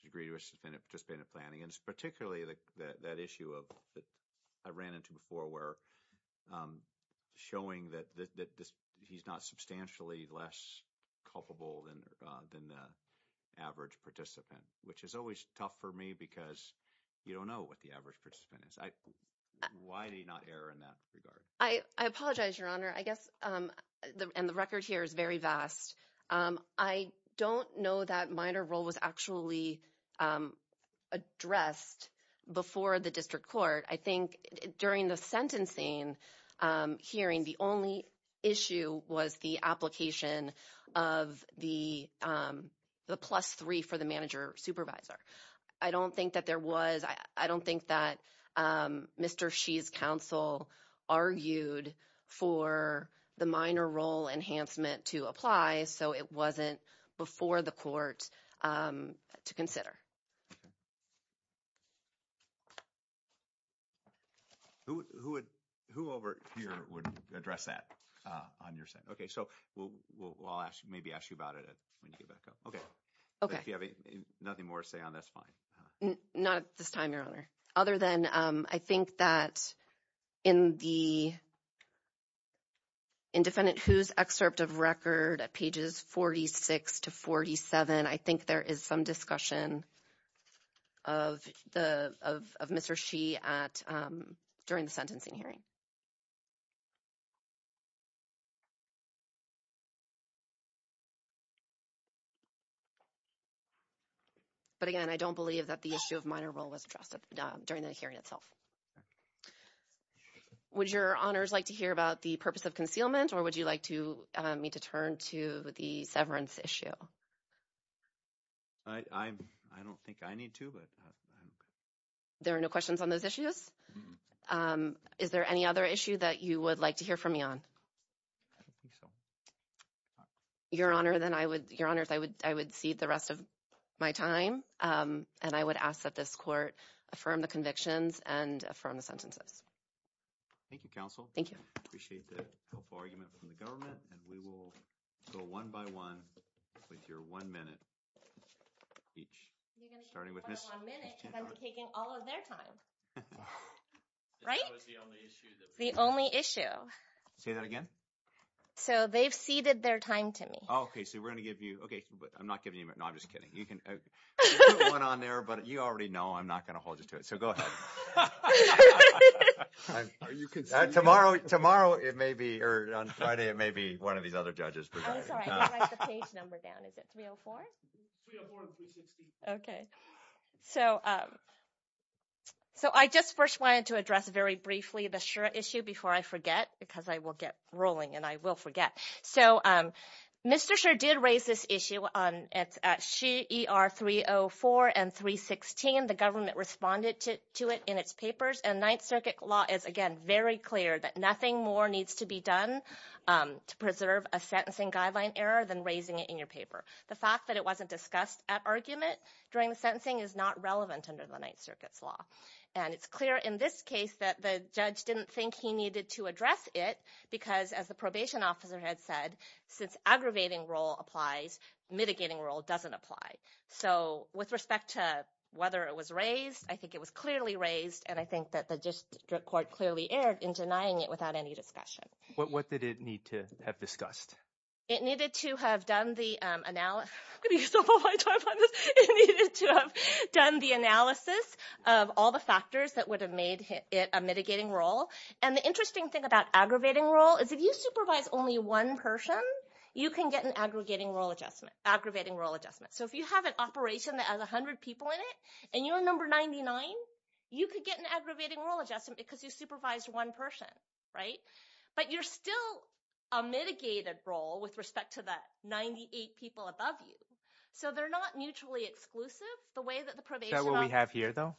the degree to which the defendant participated in planning. And it's particularly that issue that I ran into before where showing that he's not substantially less culpable than the average participant, which is always tough for me because you don't know what the average participant is. Why did he not err in that regard? I apologize, Your Honor. I guess – and the record here is very vast. I don't know that minor role was actually addressed before the district court. I think during the sentencing hearing, the only issue was the application of the plus three for the manager supervisor. I don't think that there was – I don't think that Mr. Xi's counsel argued for the minor role enhancement to apply, so it wasn't before the court to consider. Who over here would address that on your side? Okay, so I'll maybe ask you about it when you get back up. Okay. If you have nothing more to say on it, that's fine. Not at this time, Your Honor. Other than I think that in the – in Defendant Hu's excerpt of record at pages 46 to 47, I think there is some discussion of Mr. Xi during the sentencing hearing. But again, I don't believe that the issue of minor role was addressed during the hearing itself. Would Your Honors like to hear about the purpose of concealment, or would you like me to turn to the severance issue? I don't think I need to, but – There are no questions on those issues? Is there any other issue that you would like to hear from me on? I don't think so. Your Honor, then I would – Your Honors, I would cede the rest of my time, and I would ask that this court affirm the convictions and affirm the sentences. Thank you, counsel. Thank you. I appreciate the helpful argument from the government, and we will go one by one with your one minute each, starting with Ms. – We're going to keep it one minute because I'm taking all of their time. Right? That was the only issue. The only issue. Say that again? So they've ceded their time to me. Okay. So we're going to give you – okay. I'm not giving you a minute. No, I'm just kidding. You can put one on there, but you already know I'm not going to hold you to it, so go ahead. Are you conceding? Tomorrow it may be – or on Friday it may be one of these other judges. I'm sorry. I have to write the page number down. Is it 304? 304 and 360. Okay. So I just first wanted to address very briefly the Schur issue before I forget because I will get rolling and I will forget. So Mr. Schur did raise this issue at CER 304 and 316. The government responded to it in its papers, and Ninth Circuit law is, again, very clear that nothing more needs to be done to preserve a sentencing guideline error than raising it in your paper. The fact that it wasn't discussed at argument during the sentencing is not relevant under the Ninth Circuit's law. And it's clear in this case that the judge didn't think he needed to address it because, as the probation officer had said, since aggravating role applies, mitigating role doesn't apply. So with respect to whether it was raised, I think it was clearly raised, and I think that the district court clearly erred in denying it without any discussion. What did it need to have discussed? It needed to have done the analysis of all the factors that would have made it a mitigating role. And the interesting thing about aggravating role is if you supervise only one person, you can get an aggravating role adjustment. So if you have an operation that has 100 people in it and you're number 99, you could get an aggravating role adjustment because you supervised one person, right? But you're still a mitigated role with respect to the 98 people above you. So they're not mutually exclusive the way that the probation officer – Is that what we have here, though?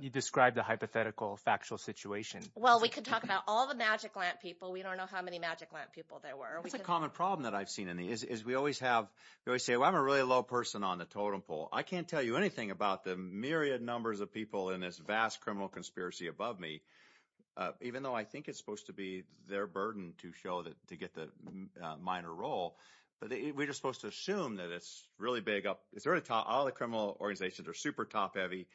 You described a hypothetical factual situation. Well, we could talk about all the magic lamp people. We don't know how many magic lamp people there were. That's a common problem that I've seen in these is we always have – they always say, well, I'm a really low person on the totem pole. I can't tell you anything about the myriad numbers of people in this vast criminal conspiracy above me, even though I think it's supposed to be their burden to show that – to get the minor role. But we're just supposed to assume that it's really big up – it's really top – all the criminal organizations are super top-heavy,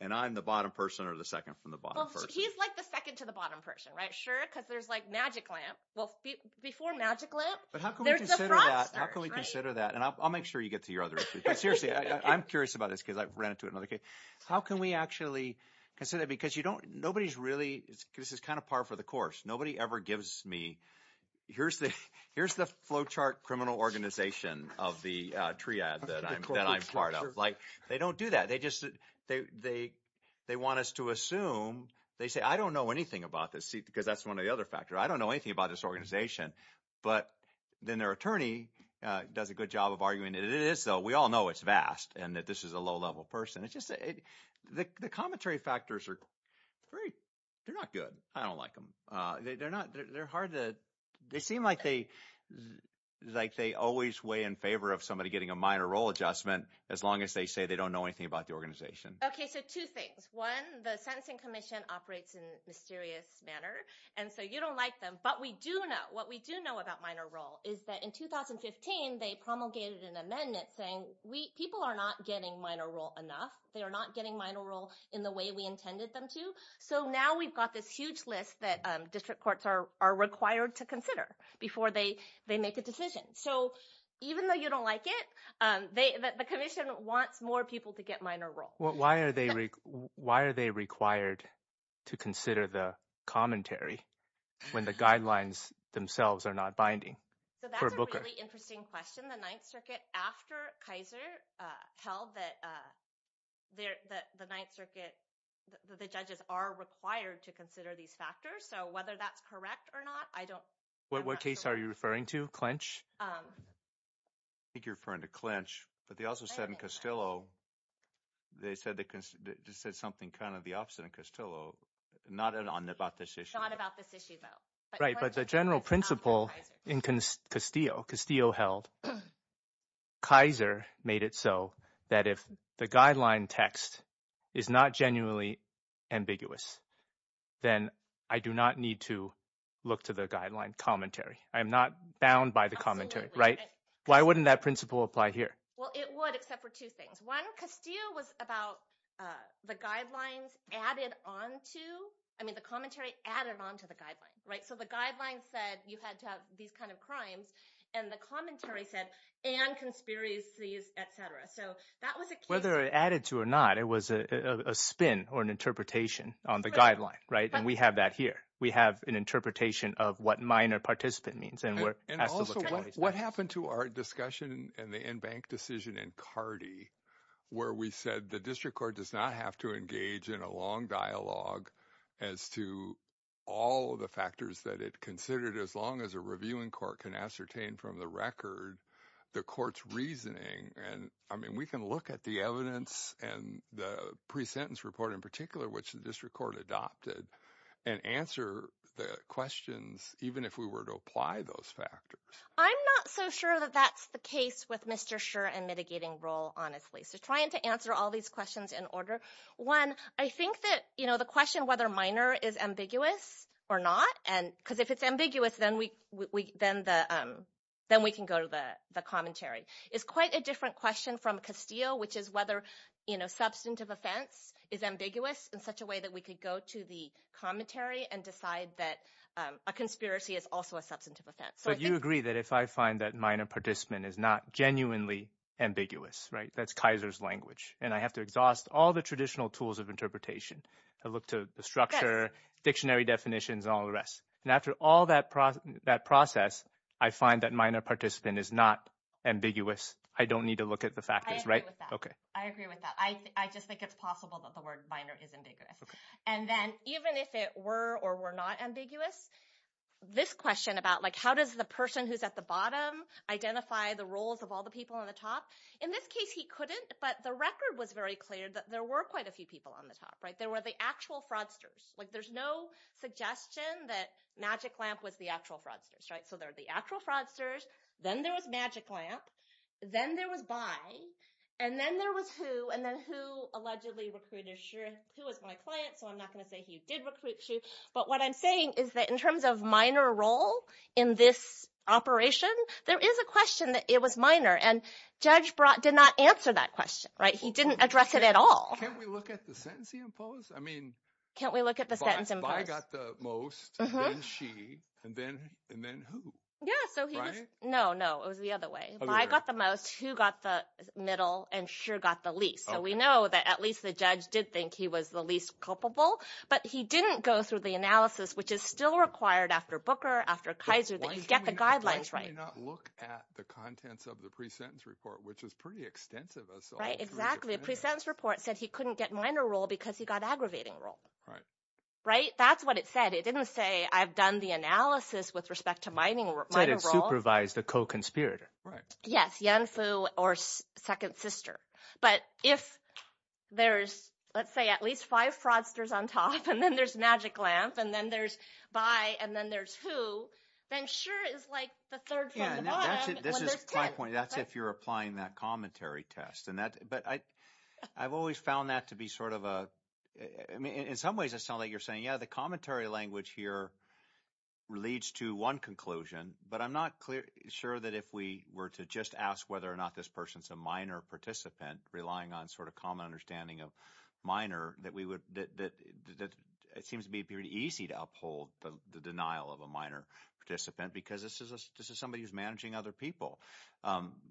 and I'm the bottom person or the second from the bottom person. Well, he's like the second to the bottom person, right? Sure, because there's like magic lamp – well, before magic lamp, there's a fraudster. But how can we consider that? How can we consider that? And I'll make sure you get to your other issue. But seriously, I'm curious about this because I've ran into it in other cases. How can we actually consider – because you don't – nobody's really – this is kind of par for the course. Nobody ever gives me – here's the flowchart criminal organization of the triad that I'm part of. Like they don't do that. They just – they want us to assume – they say I don't know anything about this because that's one of the other factors. I don't know anything about this organization. But then their attorney does a good job of arguing that it is so. We all know it's vast and that this is a low-level person. It's just – the commentary factors are very – they're not good. I don't like them. They're not – they're hard to – they seem like they always weigh in favor of somebody getting a minor role adjustment as long as they say they don't know anything about the organization. Okay, so two things. One, the sentencing commission operates in a mysterious manner, and so you don't like them. But we do know – what we do know about minor role is that in 2015 they promulgated an amendment saying people are not getting minor role enough. They are not getting minor role in the way we intended them to. So now we've got this huge list that district courts are required to consider before they make a decision. So even though you don't like it, the commission wants more people to get minor role. Why are they required to consider the commentary when the guidelines themselves are not binding? So that's a really interesting question. The Ninth Circuit, after Kaiser, held that the Ninth Circuit – the judges are required to consider these factors. So whether that's correct or not, I don't know. What case are you referring to, Clinch? I think you're referring to Clinch. But they also said in Castillo – they said something kind of the opposite in Castillo, not about this issue. Not about this issue, though. Right, but the general principle in Castillo held Kaiser made it so that if the guideline text is not genuinely ambiguous, then I do not need to look to the guideline commentary. I am not bound by the commentary. Why wouldn't that principle apply here? Well, it would except for two things. One, Castillo was about the guidelines added on to – I mean the commentary added on to the guideline. So the guideline said you had to have these kind of crimes, and the commentary said, and conspiracies, et cetera. So that was a case – Whether it added to it or not, it was a spin or an interpretation on the guideline, right? And we have that here. We have an interpretation of what minor participant means. And also, what happened to our discussion in the in-bank decision in Cardi where we said the district court does not have to engage in a long dialogue as to all of the factors that it considered as long as a reviewing court can ascertain from the record the court's reasoning? I mean, we can look at the evidence and the pre-sentence report in particular, which the district court adopted, and answer the questions even if we were to apply those factors. I'm not so sure that that's the case with Mr. Scherr and mitigating role, honestly. So trying to answer all these questions in order. One, I think that the question whether minor is ambiguous or not – because if it's ambiguous, then we can go to the commentary – is quite a different question from Castillo, which is whether substantive offense is ambiguous in such a way that we could go to the commentary and decide that a conspiracy is also a substantive offense. But you agree that if I find that minor participant is not genuinely ambiguous, right? That's Kaiser's language. And I have to exhaust all the traditional tools of interpretation. I look to the structure, dictionary definitions, and all the rest. And after all that process, I find that minor participant is not ambiguous. I don't need to look at the factors, right? I agree with that. I just think it's possible that the word minor is ambiguous. And then even if it were or were not ambiguous, this question about how does the person who's at the bottom identify the roles of all the people on the top, in this case he couldn't, but the record was very clear that there were quite a few people on the top. There were the actual fraudsters. Like there's no suggestion that Magic Lamp was the actual fraudsters, right? So there are the actual fraudsters. Then there was Magic Lamp. Then there was Bai. And then there was Hu. And then Hu allegedly recruited Xue. Hu was my client, so I'm not going to say he did recruit Xue. But what I'm saying is that in terms of minor role in this operation, there is a question that it was minor. And Judge Barat did not answer that question, right? He didn't address it at all. Can't we look at the sentence he imposed? Can't we look at the sentence imposed? Bai got the most, then Xue, and then Hu, right? No, no. It was the other way. Bai got the most, Xue got the middle, and Xue got the least. So we know that at least the judge did think he was the least culpable, but he didn't go through the analysis, which is still required after Booker, after Kaiser, that you get the guidelines right. Why did he not look at the contents of the pre-sentence report, which was pretty extensive? Right, exactly. The pre-sentence report said he couldn't get minor role because he got aggravating role. Right. Right? That's what it said. It didn't say I've done the analysis with respect to minor role. It said it supervised a co-conspirator. Right. Yes, Yanfu or second sister. But if there's, let's say, at least five fraudsters on top, and then there's Magic Lamp, and then there's Bai, and then there's Hu, then Xue is like the third from the bottom when there's two. That's if you're applying that commentary test. But I've always found that to be sort of a, I mean, in some ways it sounds like you're saying, yeah, the commentary language here leads to one conclusion, but I'm not sure that if we were to just ask whether or not this person's a minor participant, relying on sort of common understanding of minor, that it seems to be pretty easy to uphold the denial of a minor participant because this is somebody who's managing other people.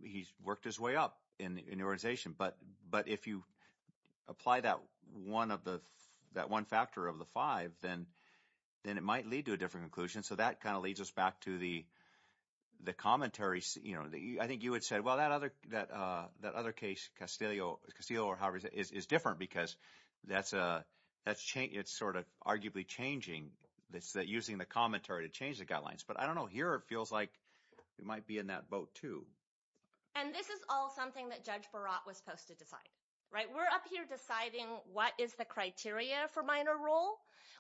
He's worked his way up in the organization. But if you apply that one factor of the five, then it might lead to a different conclusion. So that kind of leads us back to the commentary. I think you had said, well, that other case, Castillo or however it is, is different because it's sort of arguably changing. It's using the commentary to change the guidelines. But I don't know. Here it feels like it might be in that boat too. And this is all something that Judge Barat was supposed to decide, right? We're up here deciding what is the criteria for minor role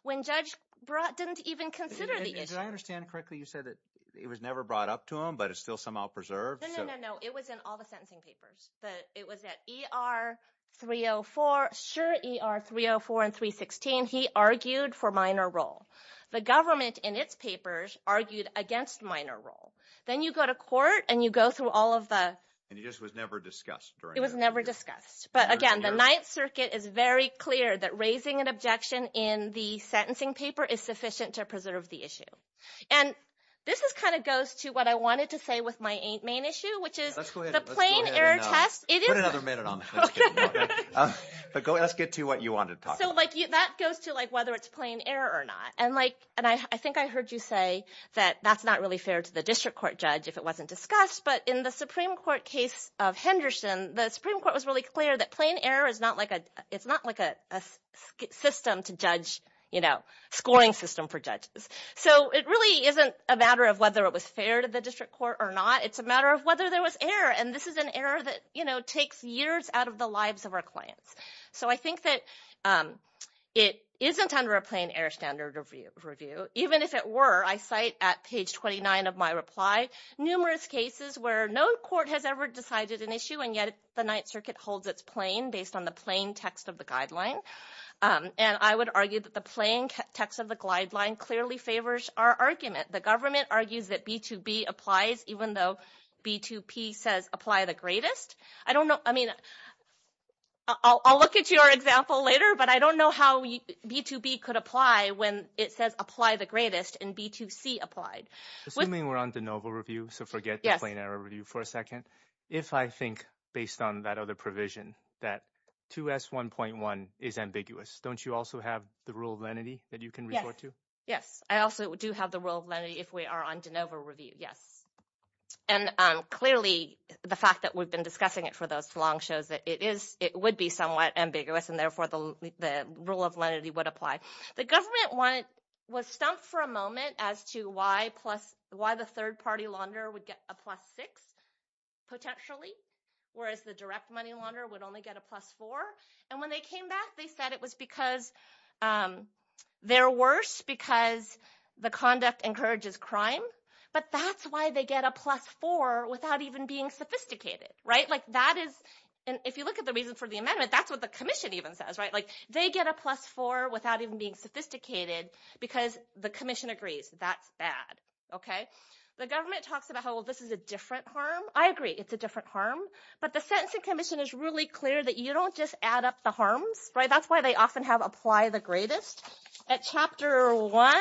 when Judge Barat didn't even consider the issue. Did I understand correctly? You said that it was never brought up to him, but it's still somehow preserved. No, no, no, no. It was in all the sentencing papers. It was at E.R. 304. Sure, E.R. 304 and 316, he argued for minor role. The government in its papers argued against minor role. Then you go to court and you go through all of the— And it just was never discussed during— It was never discussed. But, again, the Ninth Circuit is very clear that raising an objection in the sentencing paper is sufficient to preserve the issue. And this kind of goes to what I wanted to say with my main issue, which is— The plain error test— Put another minute on that. Let's get to what you wanted to talk about. That goes to whether it's plain error or not. And I think I heard you say that that's not really fair to the district court judge if it wasn't discussed. But in the Supreme Court case of Henderson, the Supreme Court was really clear that plain error is not like a system to judge, scoring system for judges. So it really isn't a matter of whether it was fair to the district court or not. It's a matter of whether there was error. And this is an error that takes years out of the lives of our clients. So I think that it isn't under a plain error standard of review. Even if it were, I cite at page 29 of my reply numerous cases where no court has ever decided an issue, and yet the Ninth Circuit holds it plain based on the plain text of the guideline. And I would argue that the plain text of the guideline clearly favors our argument. The government argues that B2B applies even though B2P says apply the greatest. I don't know. I mean, I'll look at your example later, but I don't know how B2B could apply when it says apply the greatest and B2C applied. Assuming we're on de novo review, so forget the plain error review for a second. If I think based on that other provision that 2S1.1 is ambiguous, don't you also have the rule of lenity that you can refer to? Yes, I also do have the rule of lenity if we are on de novo review, yes. And clearly the fact that we've been discussing it for this long shows that it would be somewhat ambiguous, and therefore the rule of lenity would apply. The government was stumped for a moment as to why the third-party launderer would get a plus six potentially, whereas the direct money launderer would only get a plus four. And when they came back, they said it was because they're worse because the conduct encourages crime, but that's why they get a plus four without even being sophisticated. If you look at the reason for the amendment, that's what the commission even says. They get a plus four without even being sophisticated because the commission agrees that's bad. The government talks about how this is a different harm. I agree it's a different harm, but the sentencing commission is really clear that you don't just add up the harms. That's why they often have apply the greatest. At Chapter 1.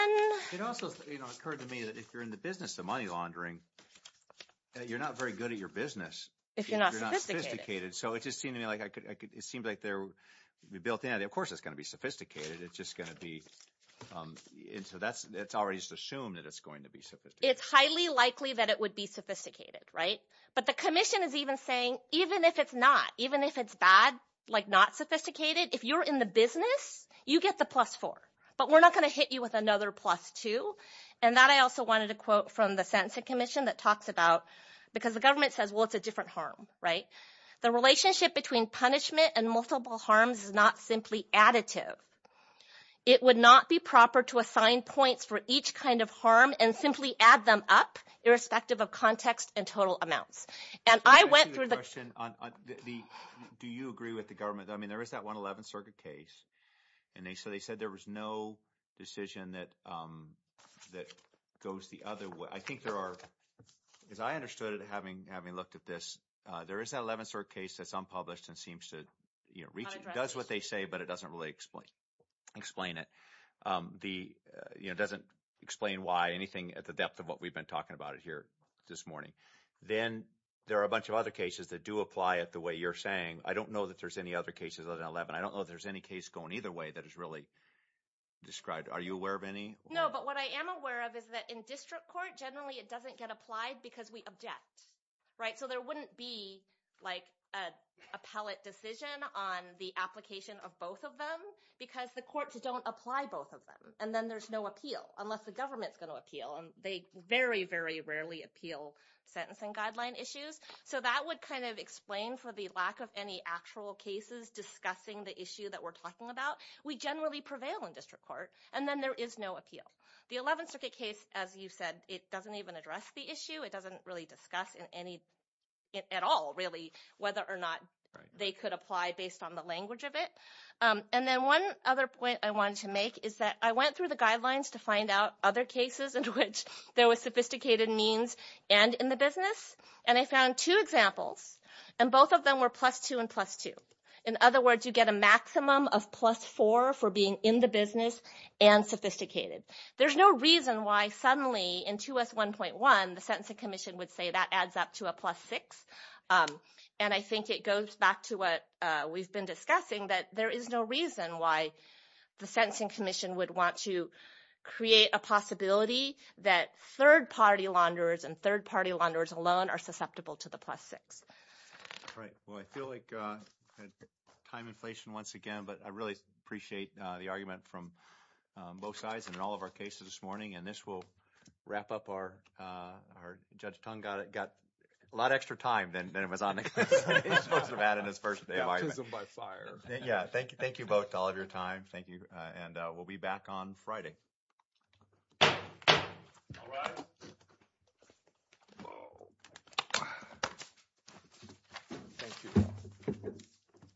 It also occurred to me that if you're in the business of money laundering, you're not very good at your business. If you're not sophisticated. So it just seemed to me like it seems like they're built in. Of course it's going to be sophisticated. It's just going to be. And so that's already assumed that it's going to be sophisticated. It's highly likely that it would be sophisticated. Right. But the commission is even saying, even if it's not, even if it's bad, like not sophisticated. If you're in the business, you get the plus four, but we're not going to hit you with another plus two. And that I also wanted to quote from the sentencing commission that talks about because the government says, well, it's a different harm. Right. The relationship between punishment and multiple harms is not simply additive. It would not be proper to assign points for each kind of harm and simply add them up, irrespective of context and total amounts. And I went through the question on the do you agree with the government? I mean, there is that one 11th Circuit case. And they said they said there was no decision that that goes the other way. I think there are, as I understood it, having having looked at this, there is an 11th Circuit case that's unpublished and seems to reach. It does what they say, but it doesn't really explain it. The doesn't explain why anything at the depth of what we've been talking about it here this morning. Then there are a bunch of other cases that do apply it the way you're saying. I don't know that there's any other cases other than 11. I don't know if there's any case going either way that is really described. Are you aware of any? No, but what I am aware of is that in district court, generally it doesn't get applied because we object. Right. Because the courts don't apply both of them. And then there's no appeal unless the government's going to appeal. And they very, very rarely appeal sentencing guideline issues. So that would kind of explain for the lack of any actual cases discussing the issue that we're talking about. We generally prevail in district court. And then there is no appeal. The 11th Circuit case, as you said, it doesn't even address the issue. It doesn't really discuss at all, really, whether or not they could apply based on the language of it. And then one other point I wanted to make is that I went through the guidelines to find out other cases in which there was sophisticated means and in the business. And I found two examples. And both of them were plus 2 and plus 2. In other words, you get a maximum of plus 4 for being in the business and sophisticated. There's no reason why suddenly in 2S1.1 the Sentencing Commission would say that adds up to a plus 6. And I think it goes back to what we've been discussing, that there is no reason why the Sentencing Commission would want to create a possibility that third-party launderers and third-party launderers alone are susceptible to the plus 6. All right. Well, I feel like time inflation once again, but I really appreciate the argument from both sides in all of our cases this morning. And this will wrap up our – Judge Tong got a lot of extra time than it was on the case. He's supposed to have added his first argument. Yeah, thank you both to all of your time. Thank you. And we'll be back on Friday. All right. Thank you.